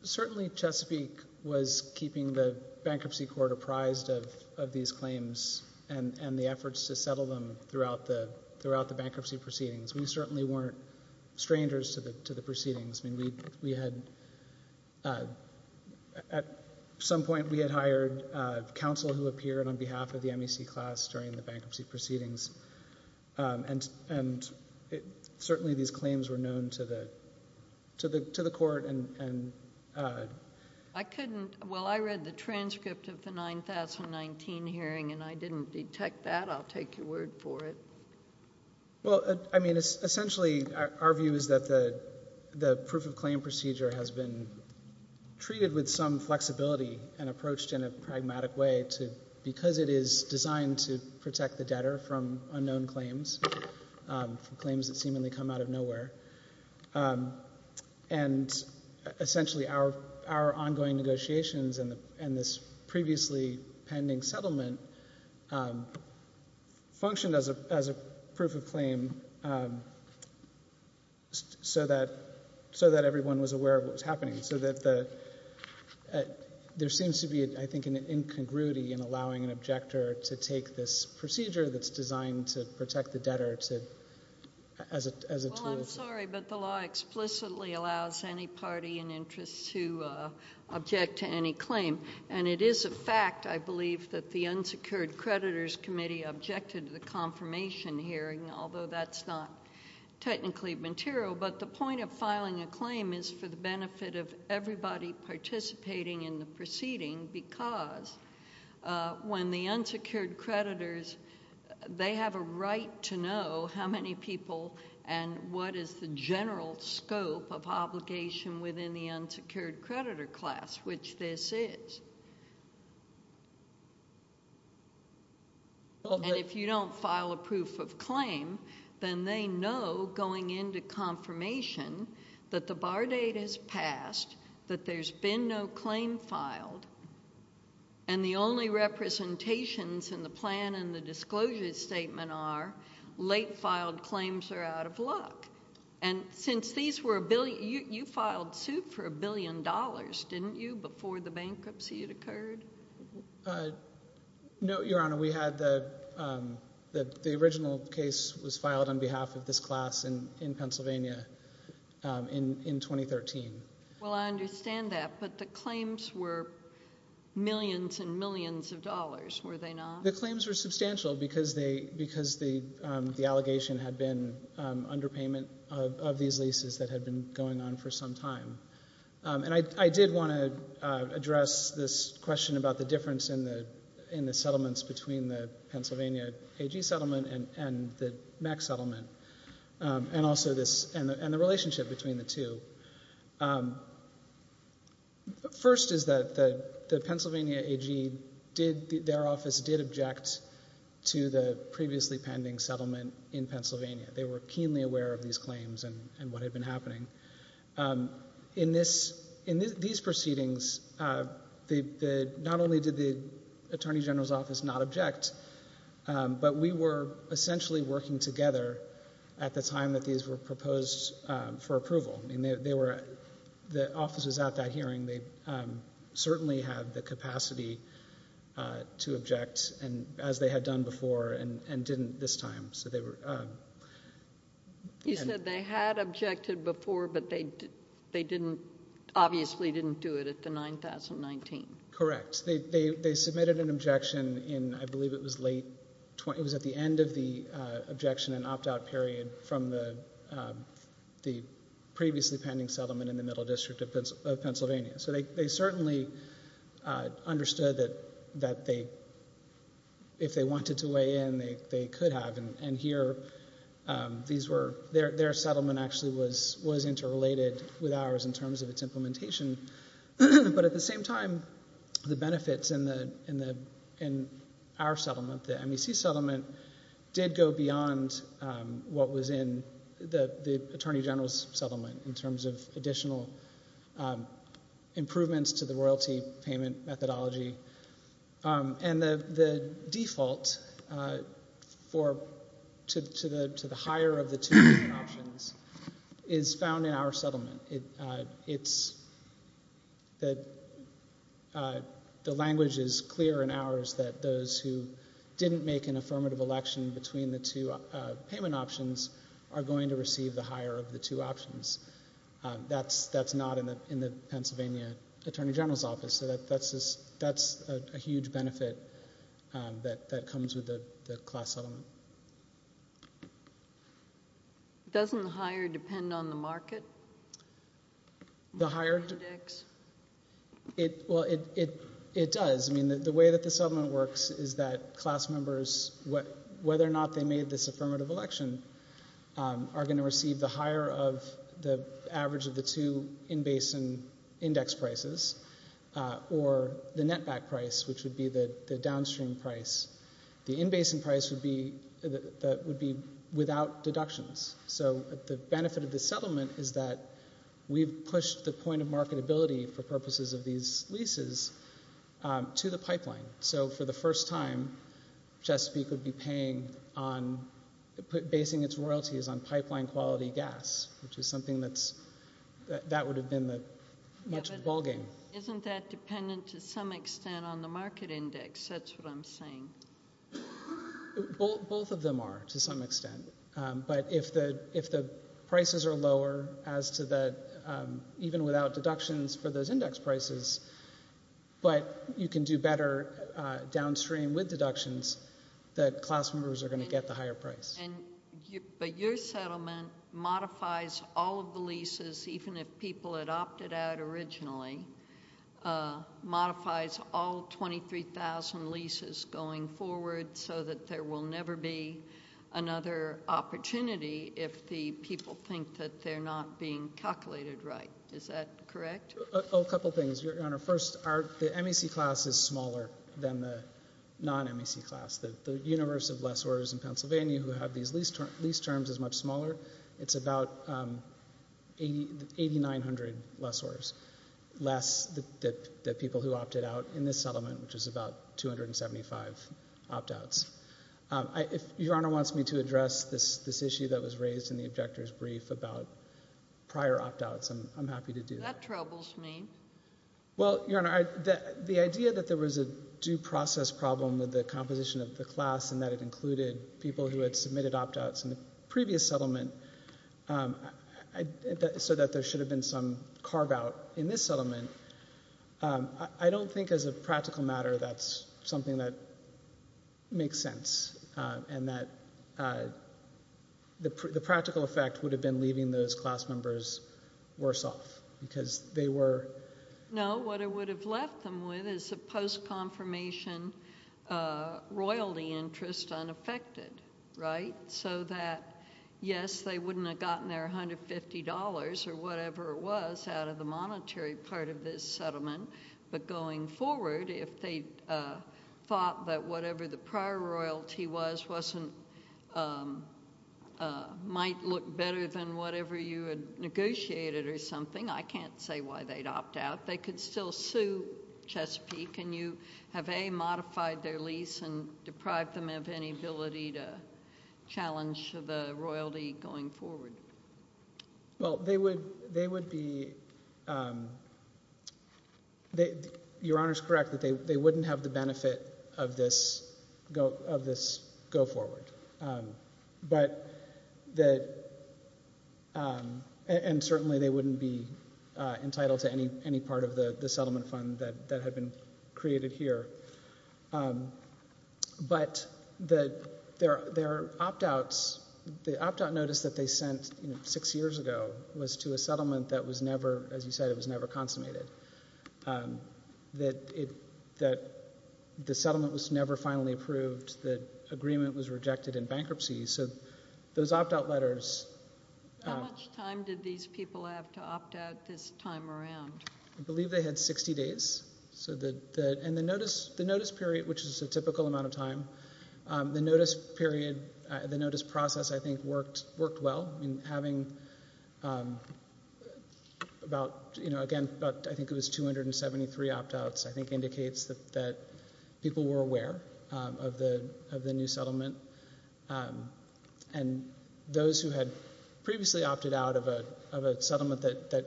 certainly Chesapeake was keeping the bankruptcy court apprised of these claims and the efforts to settle them throughout the bankruptcy proceedings. We certainly weren't strangers to the proceedings. I mean, we had, at some point we had hired counsel who appeared on behalf of the MEC class during the bankruptcy proceedings. And certainly these claims were known to the court and. I couldn't, well, I read the transcript of the 9,019 hearing and I didn't detect that. I'll take your word for it. Well, I mean, essentially our view is that the proof of claim procedure has been treated with some flexibility and approached in a pragmatic way to, because it is designed to protect the debtor from unknown claims, claims that seemingly come out of nowhere. And essentially our ongoing negotiations and this previously pending settlement functioned as a proof of claim so that everyone was aware of what was happening. So that there seems to be, I think, an incongruity in allowing an objector to take this procedure that's designed to protect the debtor as a tool. Well, I'm sorry, but the law explicitly allows any party in interest to object to any claim. And it is a fact, I believe, that the unsecured creditors committee objected to the confirmation hearing, although that's not technically material. But the point of filing a claim is for the benefit of everybody participating in the proceeding because when the unsecured creditors, they have a right to know how many people and what is the general scope of obligation within the unsecured creditor class, which this is. And if you don't file a proof of claim, then they know going into confirmation that the bar date is passed, that there's been no claim filed. And the only representations in the plan and the disclosure statement are late filed claims are out of luck. And since these were a billion, you filed two for a billion dollars, didn't you, before the bankruptcy had occurred? No, Your Honor, we had the original case was filed on behalf of this class in Pennsylvania in 2013. Well, I understand that, but the claims were millions and millions of dollars, were they not? The claims were substantial because the allegation had been underpayment of these leases that had been going on for some time. And I did want to address this question about the difference in the settlements between the Pennsylvania AG settlement and the MAC settlement, and also this, and the relationship between the two. First is that the Pennsylvania AG, their office did object to the previously pending settlement in Pennsylvania. They were keenly aware of these claims and what had been happening. In these proceedings, not only did the Attorney General's office not object, but we were essentially working together at the time that these were proposed for approval. And the offices at that hearing, they certainly had the capacity to object, and as they had done before, and didn't this time. You said they had objected before, but they obviously didn't do it at the 9,019. Correct, they submitted an objection in, I believe it was late, it was at the end of the objection and opt-out period from the previously pending settlement in the Middle District of Pennsylvania. So they certainly understood that they, if they wanted to lay in, they could have. And here, their settlement actually was interrelated with ours in terms of its implementation. But at the same time, the benefits in our settlement, the MAC settlement, did go beyond what was in the Attorney General's settlement in terms of additional improvements to the royalty payment methodology. And the default for, to the higher of the two options is found in our settlement. It's, the language is clear in ours that those who didn't make an affirmative election between the two payment options are going to receive the higher of the two options. That's not in the Pennsylvania Attorney General's office. So that's a huge benefit that comes with the class settlement. Doesn't the higher depend on the market? The higher? Well, it does. I mean, the way that the settlement works is that class members, whether or not they made this affirmative election, are gonna receive the higher of the average of the two in-basin index prices or the net back price, which would be the downstream price. The in-basin price would be without deductions. So the benefit of the settlement is that we've pushed the point of marketability for purposes of these leases to the pipeline. So for the first time, Chesapeake would be paying on basing its royalties on pipeline quality gas, which is something that would have been much bulging. Isn't that dependent to some extent on the market index? That's what I'm saying. Both of them are to some extent. But if the prices are lower as to the, even without deductions for those index prices, but you can do better downstream with deductions, that class members are gonna get the higher price. But your settlement modifies all of the leases, even if people had opted out originally, modifies all 23,000 leases going forward so that there will never be another opportunity if the people think that they're not being calculated right. Is that correct? A couple of things, Your Honor. First, the MEC class is smaller than the non-MEC class. The universe of lessors in Pennsylvania who have these lease terms is much smaller. It's about 8,900 lessors, less than the people who opted out in this settlement, which is about 275 opt-outs. Your Honor wants me to address this issue that was raised in the objector's brief about prior opt-outs. I'm happy to do that. That troubles me. Well, Your Honor, the idea that there was a due process problem with the composition of the class and that it included people who had submitted opt-outs in the previous settlement so that there should have been some carve-out in this settlement, I don't think as a practical matter that's something that makes sense and that the practical effect would have been leaving those class members worse off because they were... No, what it would have left them with is a post-confirmation royalty interest unaffected, right? So that, yes, they wouldn't have gotten their $150 or whatever it was out of the monetary part of this settlement, but going forward, if they thought that whatever the prior royalty was wasn't, might look better than whatever you had negotiated or something, I can't say why they'd opt-out. They could still sue Chesapeake and you have, A, modified their lease and deprived them of any ability to challenge the royalty going forward. Well, they would be... Your Honor's correct that they wouldn't have the benefit of this go-forward, but that, and certainly they wouldn't be entitled to any part of the settlement fund that had been created here, but their opt-outs, the opt-out notice that they sent six years ago was to a settlement that was never, as you said, it was never consummated, that the settlement was never finally approved, the agreement was rejected in bankruptcy, so those opt-out letters... How much time did these people have to opt-out this time around? I believe they had 60 days, and the notice period, which is a typical amount of time, the notice period, the notice process, I think, worked well in having about, again, I think it was 273 opt-outs, I think indicates that people were aware of the new settlement, and those who had previously opted out of a settlement that,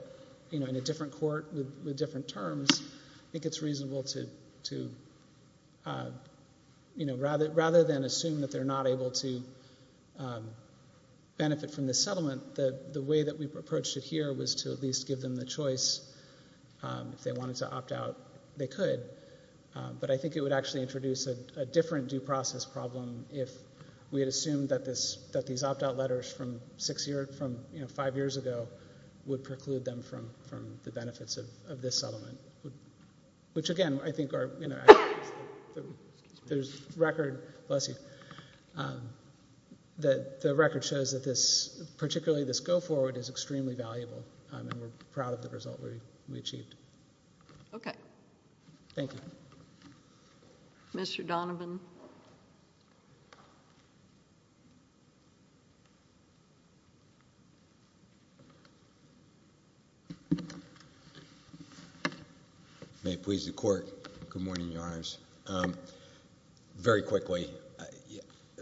in a different court, with different terms, I think it's reasonable to, rather than assume that they're not able to benefit from the settlement, the way that we've approached it here was to at least give them the choice, if they wanted to opt-out, they could, but I think it would actually introduce a different due process problem if we had assumed that these opt-out letters from five years ago would preclude them from the benefits of this settlement, which, again, I think are, there's record, bless you, that the record shows that this, particularly this go-forward, is extremely valuable, and we're proud of the result that we achieved. Okay. Thank you. Mr. Donovan. May it please the Court, good morning, Your Honors. Very quickly,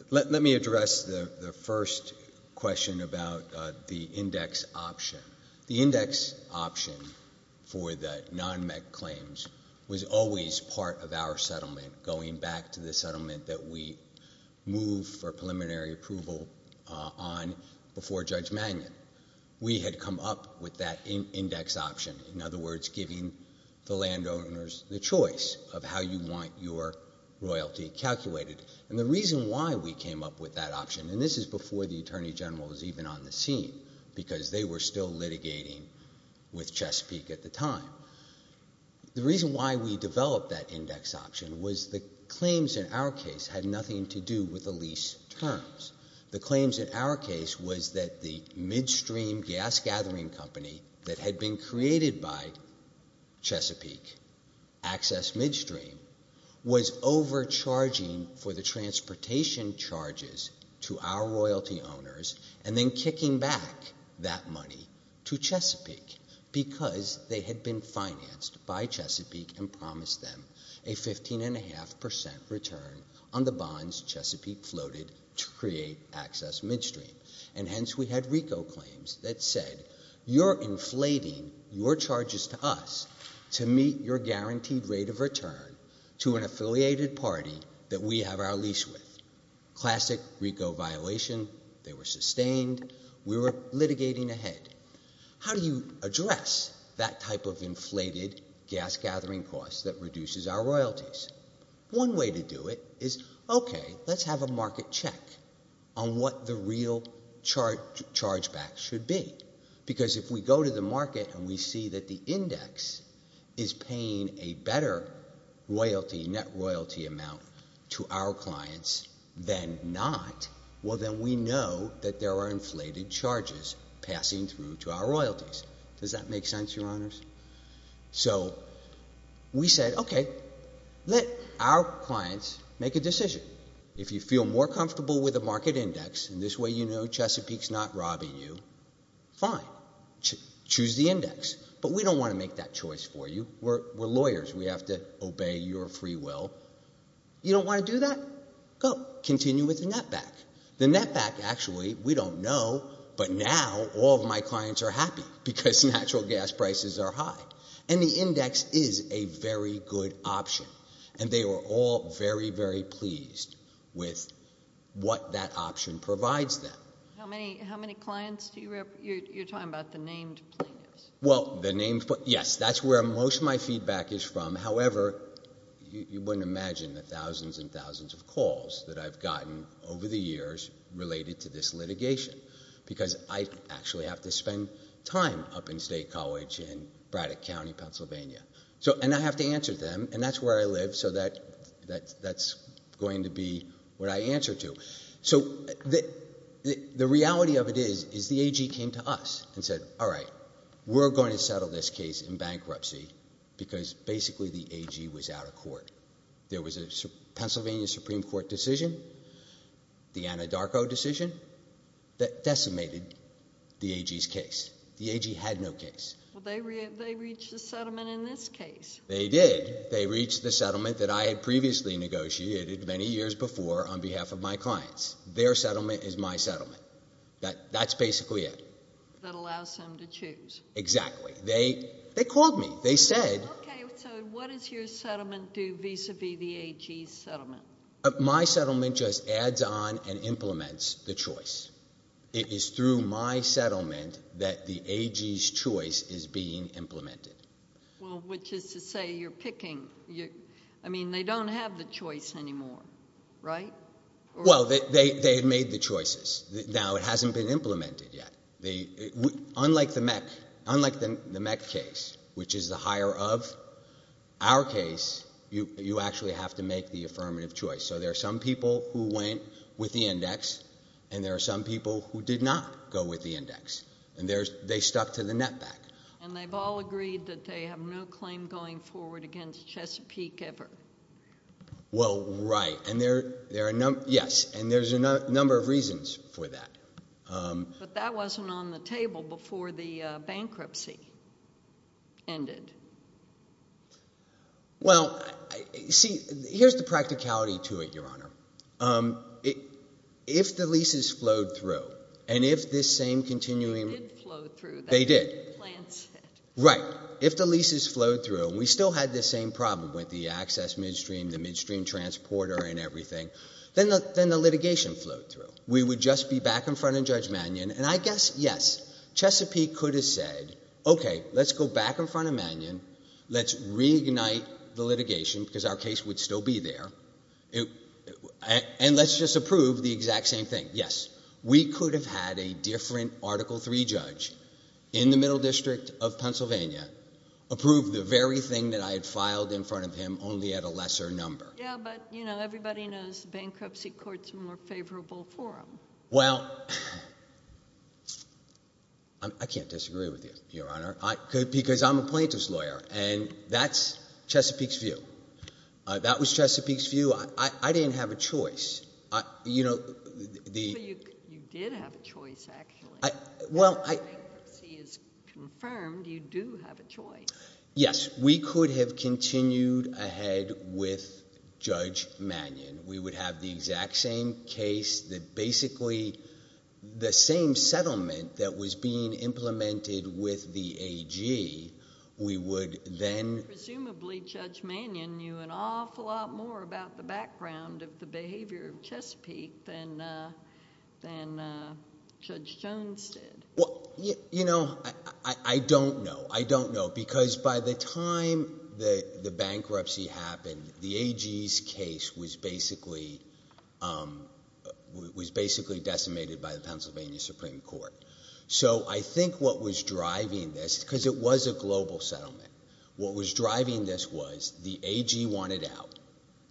let me address the first question about the index option. For the non-MEC claims, was always part of our settlement, going back to the settlement that we moved for preliminary approval on before Judge Magnin. We had come up with that index option, in other words, giving the landowners the choice of how you want your royalty calculated, and the reason why we came up with that option, and this is before the Attorney General was even on the scene, because they were still litigating with Chesapeake at the time. The reason why we developed that index option was the claims in our case had nothing to do with the lease terms. The claims in our case was that the midstream gas gathering company that had been created by Chesapeake, Access Midstream, was overcharging for the transportation charges to our royalty owners, and then kicking back that money to Chesapeake, because they had been financed by Chesapeake and promised them a 15.5% return on the bonds Chesapeake floated to create Access Midstream, and hence we had RICO claims that said, you're inflating your charges to us to meet your guaranteed rate of return to an affiliated party that we have our lease with. Classic RICO violation. They were sustained. We were litigating ahead. How do you address that type of inflated gas gathering costs that reduces our royalties? One way to do it is, okay, let's have a market check on what the real chargeback should be, because if we go to the market and we see that the index is paying a better royalty, net royalty amount, to our clients than not, well then we know that there are inflated charges passing through to our royalties. Does that make sense, your honors? So we said, okay, let our clients make a decision. If you feel more comfortable with the market index, and this way you know Chesapeake's not robbing you, fine, choose the index, but we don't wanna make that choice for you. We're lawyers, we have to obey your free will. You don't wanna do that? Go, continue with the net back. The net back, actually, we don't know, but now all my clients are happy because natural gas prices are high, and the index is a very good option, and they were all very, very pleased with what that option provides them. How many clients, you're talking about the named? Well, the named, yes, that's where most of my feedback is from, however, you wouldn't imagine the thousands and thousands of calls that I've gotten over the years related to this litigation, because I actually have to spend time up in State College in Braddock County, Pennsylvania, and I have to answer them, and that's where I live, so that's going to be what I answer to. So the reality of it is, is the AG came to us and said, all right, we're going to settle this case in bankruptcy, because basically the AG was out of court. There was a Pennsylvania Supreme Court decision, the Anadarko decision, that decimated the AG's case. The AG had no case. Well, they reached the settlement in this case. They did, they reached the settlement that I had previously negotiated many years before on behalf of my clients. Their settlement is my settlement. That's basically it. That allows them to choose. Exactly. They called me. They said. Okay, so what does your settlement do vis-a-vis the AG's settlement? My settlement just adds on and implements the choice. It is through my settlement that the AG's choice is being implemented. Well, which is to say you're picking, I mean, they don't have the choice anymore, right? Well, they've made the choices. Now, it hasn't been implemented yet. Unlike the Met case, which is the higher of our case, you actually have to make the affirmative choice. So there are some people who went with the index, and there are some people who did not go with the index, and they stuck to the net back. And they've all agreed that they have no claim going forward against Chesapeake ever. Well, right, and there are, yes, and there's a number of reasons for that. But that wasn't on the table before the bankruptcy ended. Well, see, here's the practicality to it, Your Honor. If the leases flowed through, and if this same continuing. They did flow through. They did. Right, if the leases flowed through, and we still had the same problem with the access midstream, the midstream transporter and everything, then the litigation flowed through. We would just be back in front of Judge Mannion, and I guess, yes, Chesapeake could have said, okay, let's go back in front of Mannion, let's reunite the litigation, because our case would still be there, and let's just approve the exact same thing. Yes, we could have had a different Article III judge in the Middle District of Pennsylvania approve the very thing that I had filed in front of him only at a lesser number. Yeah, but, you know, everybody knows bankruptcy courts are more favorable for them. Well, I can't disagree with you, Your Honor, because I'm a plaintiff's lawyer, and that's Chesapeake's view. That was Chesapeake's view. I didn't have a choice. So you did have a choice, actually. Well, I. The bankruptcy is confirmed. You do have a choice. Yes, we could have continued ahead with Judge Mannion. We would have the exact same case that basically, the same settlement that was being implemented with the AG, we would then. Presumably, Judge Mannion knew an awful lot more about the background of the behavior of Chesapeake than Judge Jones did. Well, you know, I don't know. Because by the time the bankruptcy happened, the AG's case was basically decimated by the Pennsylvania Supreme Court. So I think what was driving this, because it was a global settlement, what was driving this was the AG wanted out.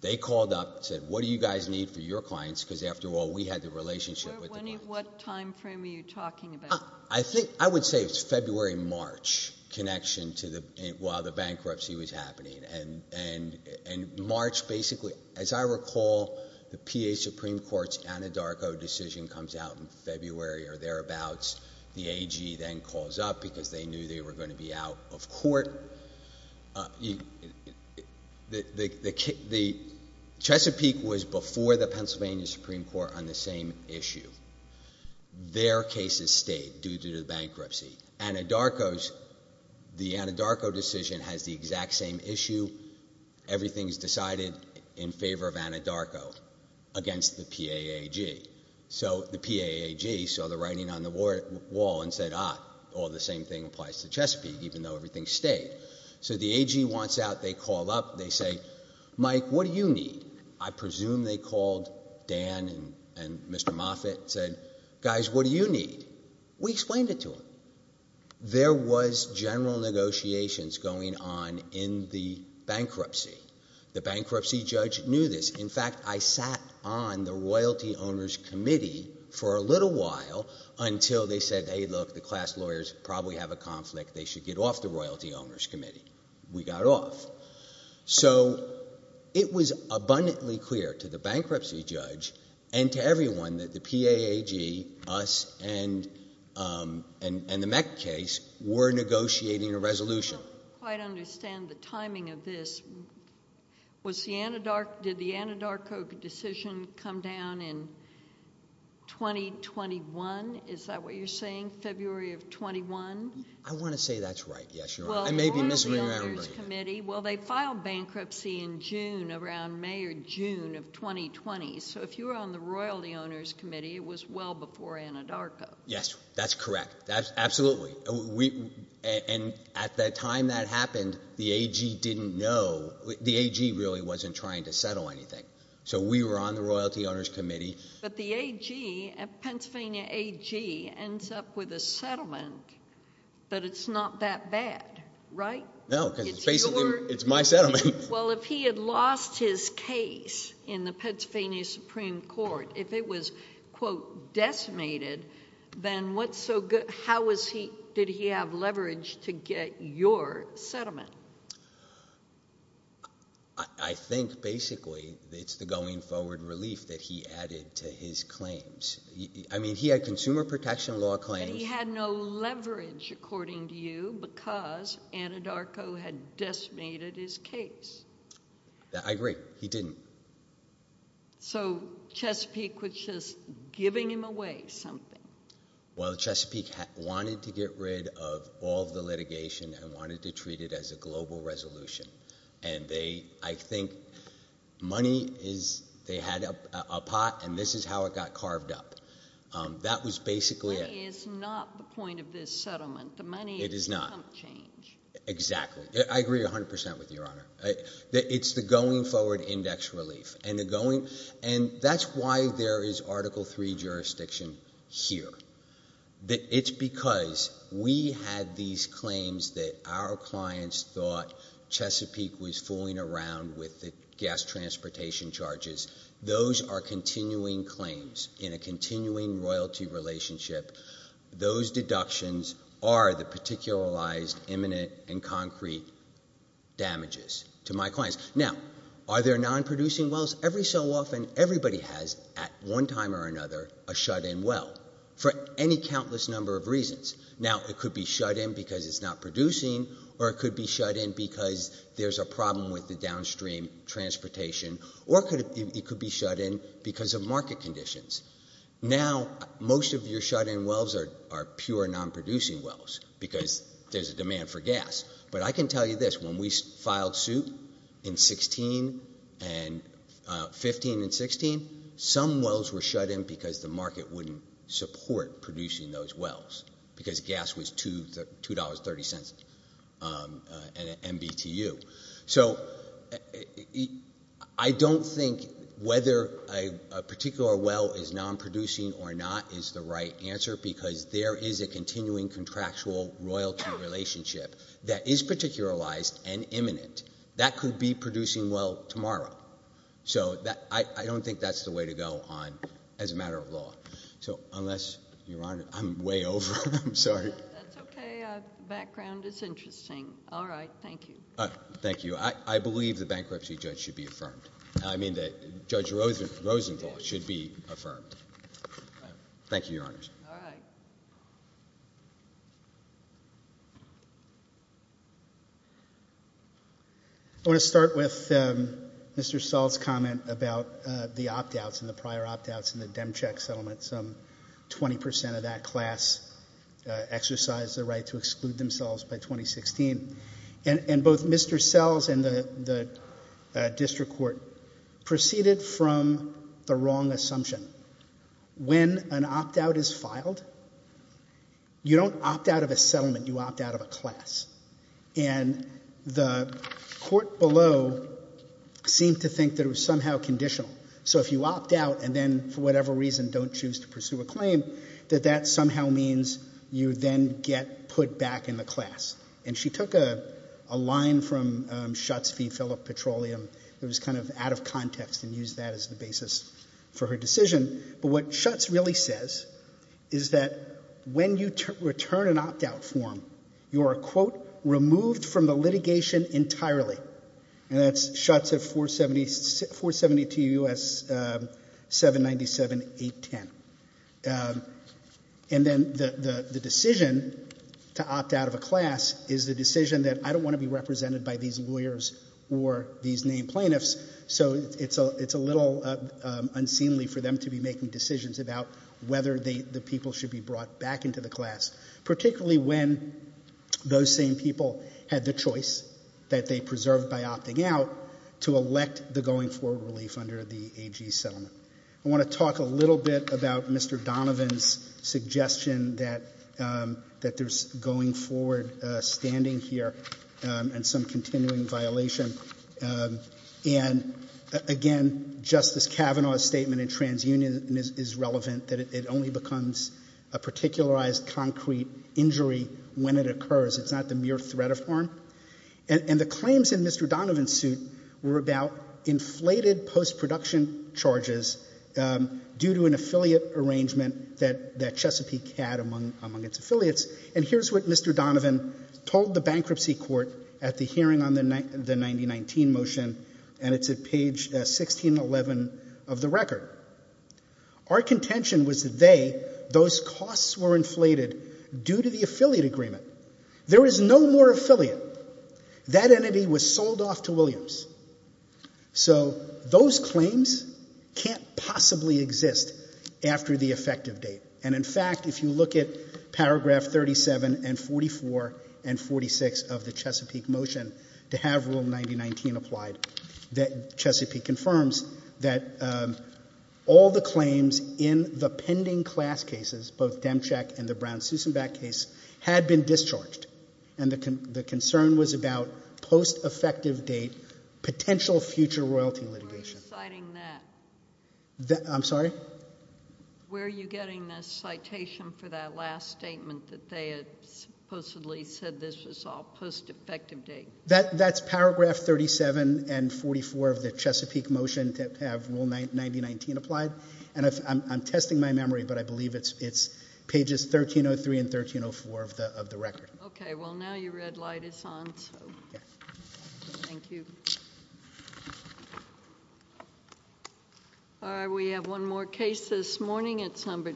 They called up, said, what do you guys need for your clients, because after all, we had the relationship with the. What time frame are you talking about? I think, I would say it's February, March connection to the, while the bankruptcy was happening. And March, basically, as I recall, the PA Supreme Court's Anadarko decision comes out in February or thereabouts. The AG then calls up because they knew they were gonna be out of court. Chesapeake was before the Pennsylvania Supreme Court on the same issue. Their cases stayed due to the bankruptcy. Anadarko's, the Anadarko decision has the exact same issue. Everything's decided in favor of Anadarko against the PA AG. So the PA AG saw the writing on the wall and said, ah, well, the same thing applies to Chesapeake, even though everything stayed. So the AG wants out, they call up, they say, Mike, what do you need? I presume they called Dan and Mr. Moffitt, said, guys, what do you need? We explained it to them. There was general negotiations going on in the bankruptcy. The bankruptcy judge knew this. In fact, I sat on the royalty owners committee for a little while until they said, hey, look, the class lawyers probably have a conflict. They should get off the royalty owners committee. We got off. So it was abundantly clear to the bankruptcy judge and to everyone that the PA AG, us, and the Meck case were negotiating a resolution. I don't understand the timing of this. Was the Anadarko, did the Anadarko decision come down in 2021? Is that what you're saying, February of 21? I want to say that's right, yes, Your Honor. I may be misremembering. Well, they filed bankruptcy in June, around May or June of 2020. So if you were on the royalty owners committee, it was well before Anadarko. Yes, that's correct. That's absolutely, and at the time that happened, the AG didn't know, the AG really wasn't trying to settle anything. So we were on the royalty owners committee. But the AG, Pennsylvania AG, ends up with a settlement, but it's not that bad, right? No, it's basically, it's my settlement. Well, if he had lost his case in the Pennsylvania Supreme Court, if it was, quote, decimated, then what's so good, how was he, did he have leverage to get your settlement? I think basically, it's the going forward relief that he added to his claims. I mean, he had consumer protection law claims. He had no leverage, according to you, because Anadarko had decimated his case. I agree, he didn't. So Chesapeake was just giving him away something. Well, Chesapeake wanted to get rid of all the litigation and wanted to treat it as a global resolution. And they, I think, money is, they had a pot and this is how it got carved up. That was basically it. Money is not the point of this settlement. The money is some change. Exactly, I agree 100% with Your Honor. It's the going forward index relief. And the going, and that's why there is Article III jurisdiction here. That it's because we had these claims that our clients thought Chesapeake was fooling around with the gas transportation charges. Those are continuing claims in a continuing royalty relationship. Those deductions are the particularized, imminent and concrete damages to my clients. Now, are there non-producing wells? Every so often, everybody has, at one time or another, a shut-in well for any countless number of reasons. Now, it could be shut-in because it's not producing or it could be shut-in because there's a problem with the downstream transportation or it could be shut-in because of market conditions. Now, most of your shut-in wells are pure non-producing wells because there's a demand for gas. But I can tell you this, when we filed suit in 15 and 16, some wells were shut-in because the market wouldn't support producing those wells because gas was $2.30 at MBTU. So, I don't think whether a particular well is non-producing or not is the right answer because there is a continuing contractual royalty relationship that is particularized and imminent. That could be producing well tomorrow. So, I don't think that's the way to go on as a matter of law. So, unless, Your Honor, I'm way over, I'm sorry. That's okay, background is interesting. All right, thank you. Thank you. I believe the bankruptcy judge should be affirmed. I mean, Judge Rosenthal should be affirmed. Thank you, Your Honor. All right. I wanna start with Mr. Sells' comment about the opt-outs and the prior opt-outs in the Demcheck settlement. Some 20% of that class exercised the right to exclude themselves by 2016. And both Mr. Sells and the district court proceeded from the wrong assumption. When an opt-out is filed, you don't opt-out of a settlement, you opt-out of a class. And the court below seemed to think that it was somehow conditional. So, if you opt-out and then, for whatever reason, don't choose to pursue a claim, that that somehow means you then get put back in the class. And she took a line from Schutz v. Phillip Petroleum that was kind of out of context and used that as the basis for her decision. But what Schutz really says is that when you return an opt-out form, you are, quote, removed from the litigation entirely. And that's Schutz at 472 U.S. 797-810. And then the decision to opt-out of a class is the decision that I don't want to be represented by these lawyers or these named plaintiffs, so it's a little unseemly for them to be making decisions about whether the people should be brought back into the class, particularly when those same people had the choice that they preserved by opting out to elect the going forward relief under the AG settlement. I want to talk a little bit about Mr. Donovan's suggestion that there's going forward standing here and some continuing violation. And again, Justice Kavanaugh's statement in TransUnion is relevant, that it only becomes a particularized concrete injury when it occurs. It's not the mere threat of harm. And the claims in Mr. Donovan's suit were about inflated post-production charges due to an affiliate arrangement that Chesapeake had among its affiliates. And here's what Mr. Donovan told the bankruptcy court at the hearing on the 1919 motion, and it's at page 1611 of the record. Our contention was that those costs were inflated due to the affiliate agreement. There is no more affiliate. That entity was sold off to Williams. So those claims can't possibly exist after the effective date. And in fact, if you look at paragraph 37 and 44 and 46 of the Chesapeake motion to have Rule 9019 applied, that Chesapeake confirms that all the claims in the pending class cases, both Demchak and the Brown-Susenbeck case, had been discharged. And the concern was about post-effective date, potential future royalty litigation. I'm citing that. I'm sorry? Where are you getting that citation for that last statement that they had supposedly said this is all post-effective date? That's paragraph 37 and 44 of the Chesapeake motion to have Rule 9019 applied. And I'm testing my memory, but I believe it's pages 1303 and 1304 of the record. Okay, well, now your red light is on, so thank you. All right, we have one more case this morning. It's number.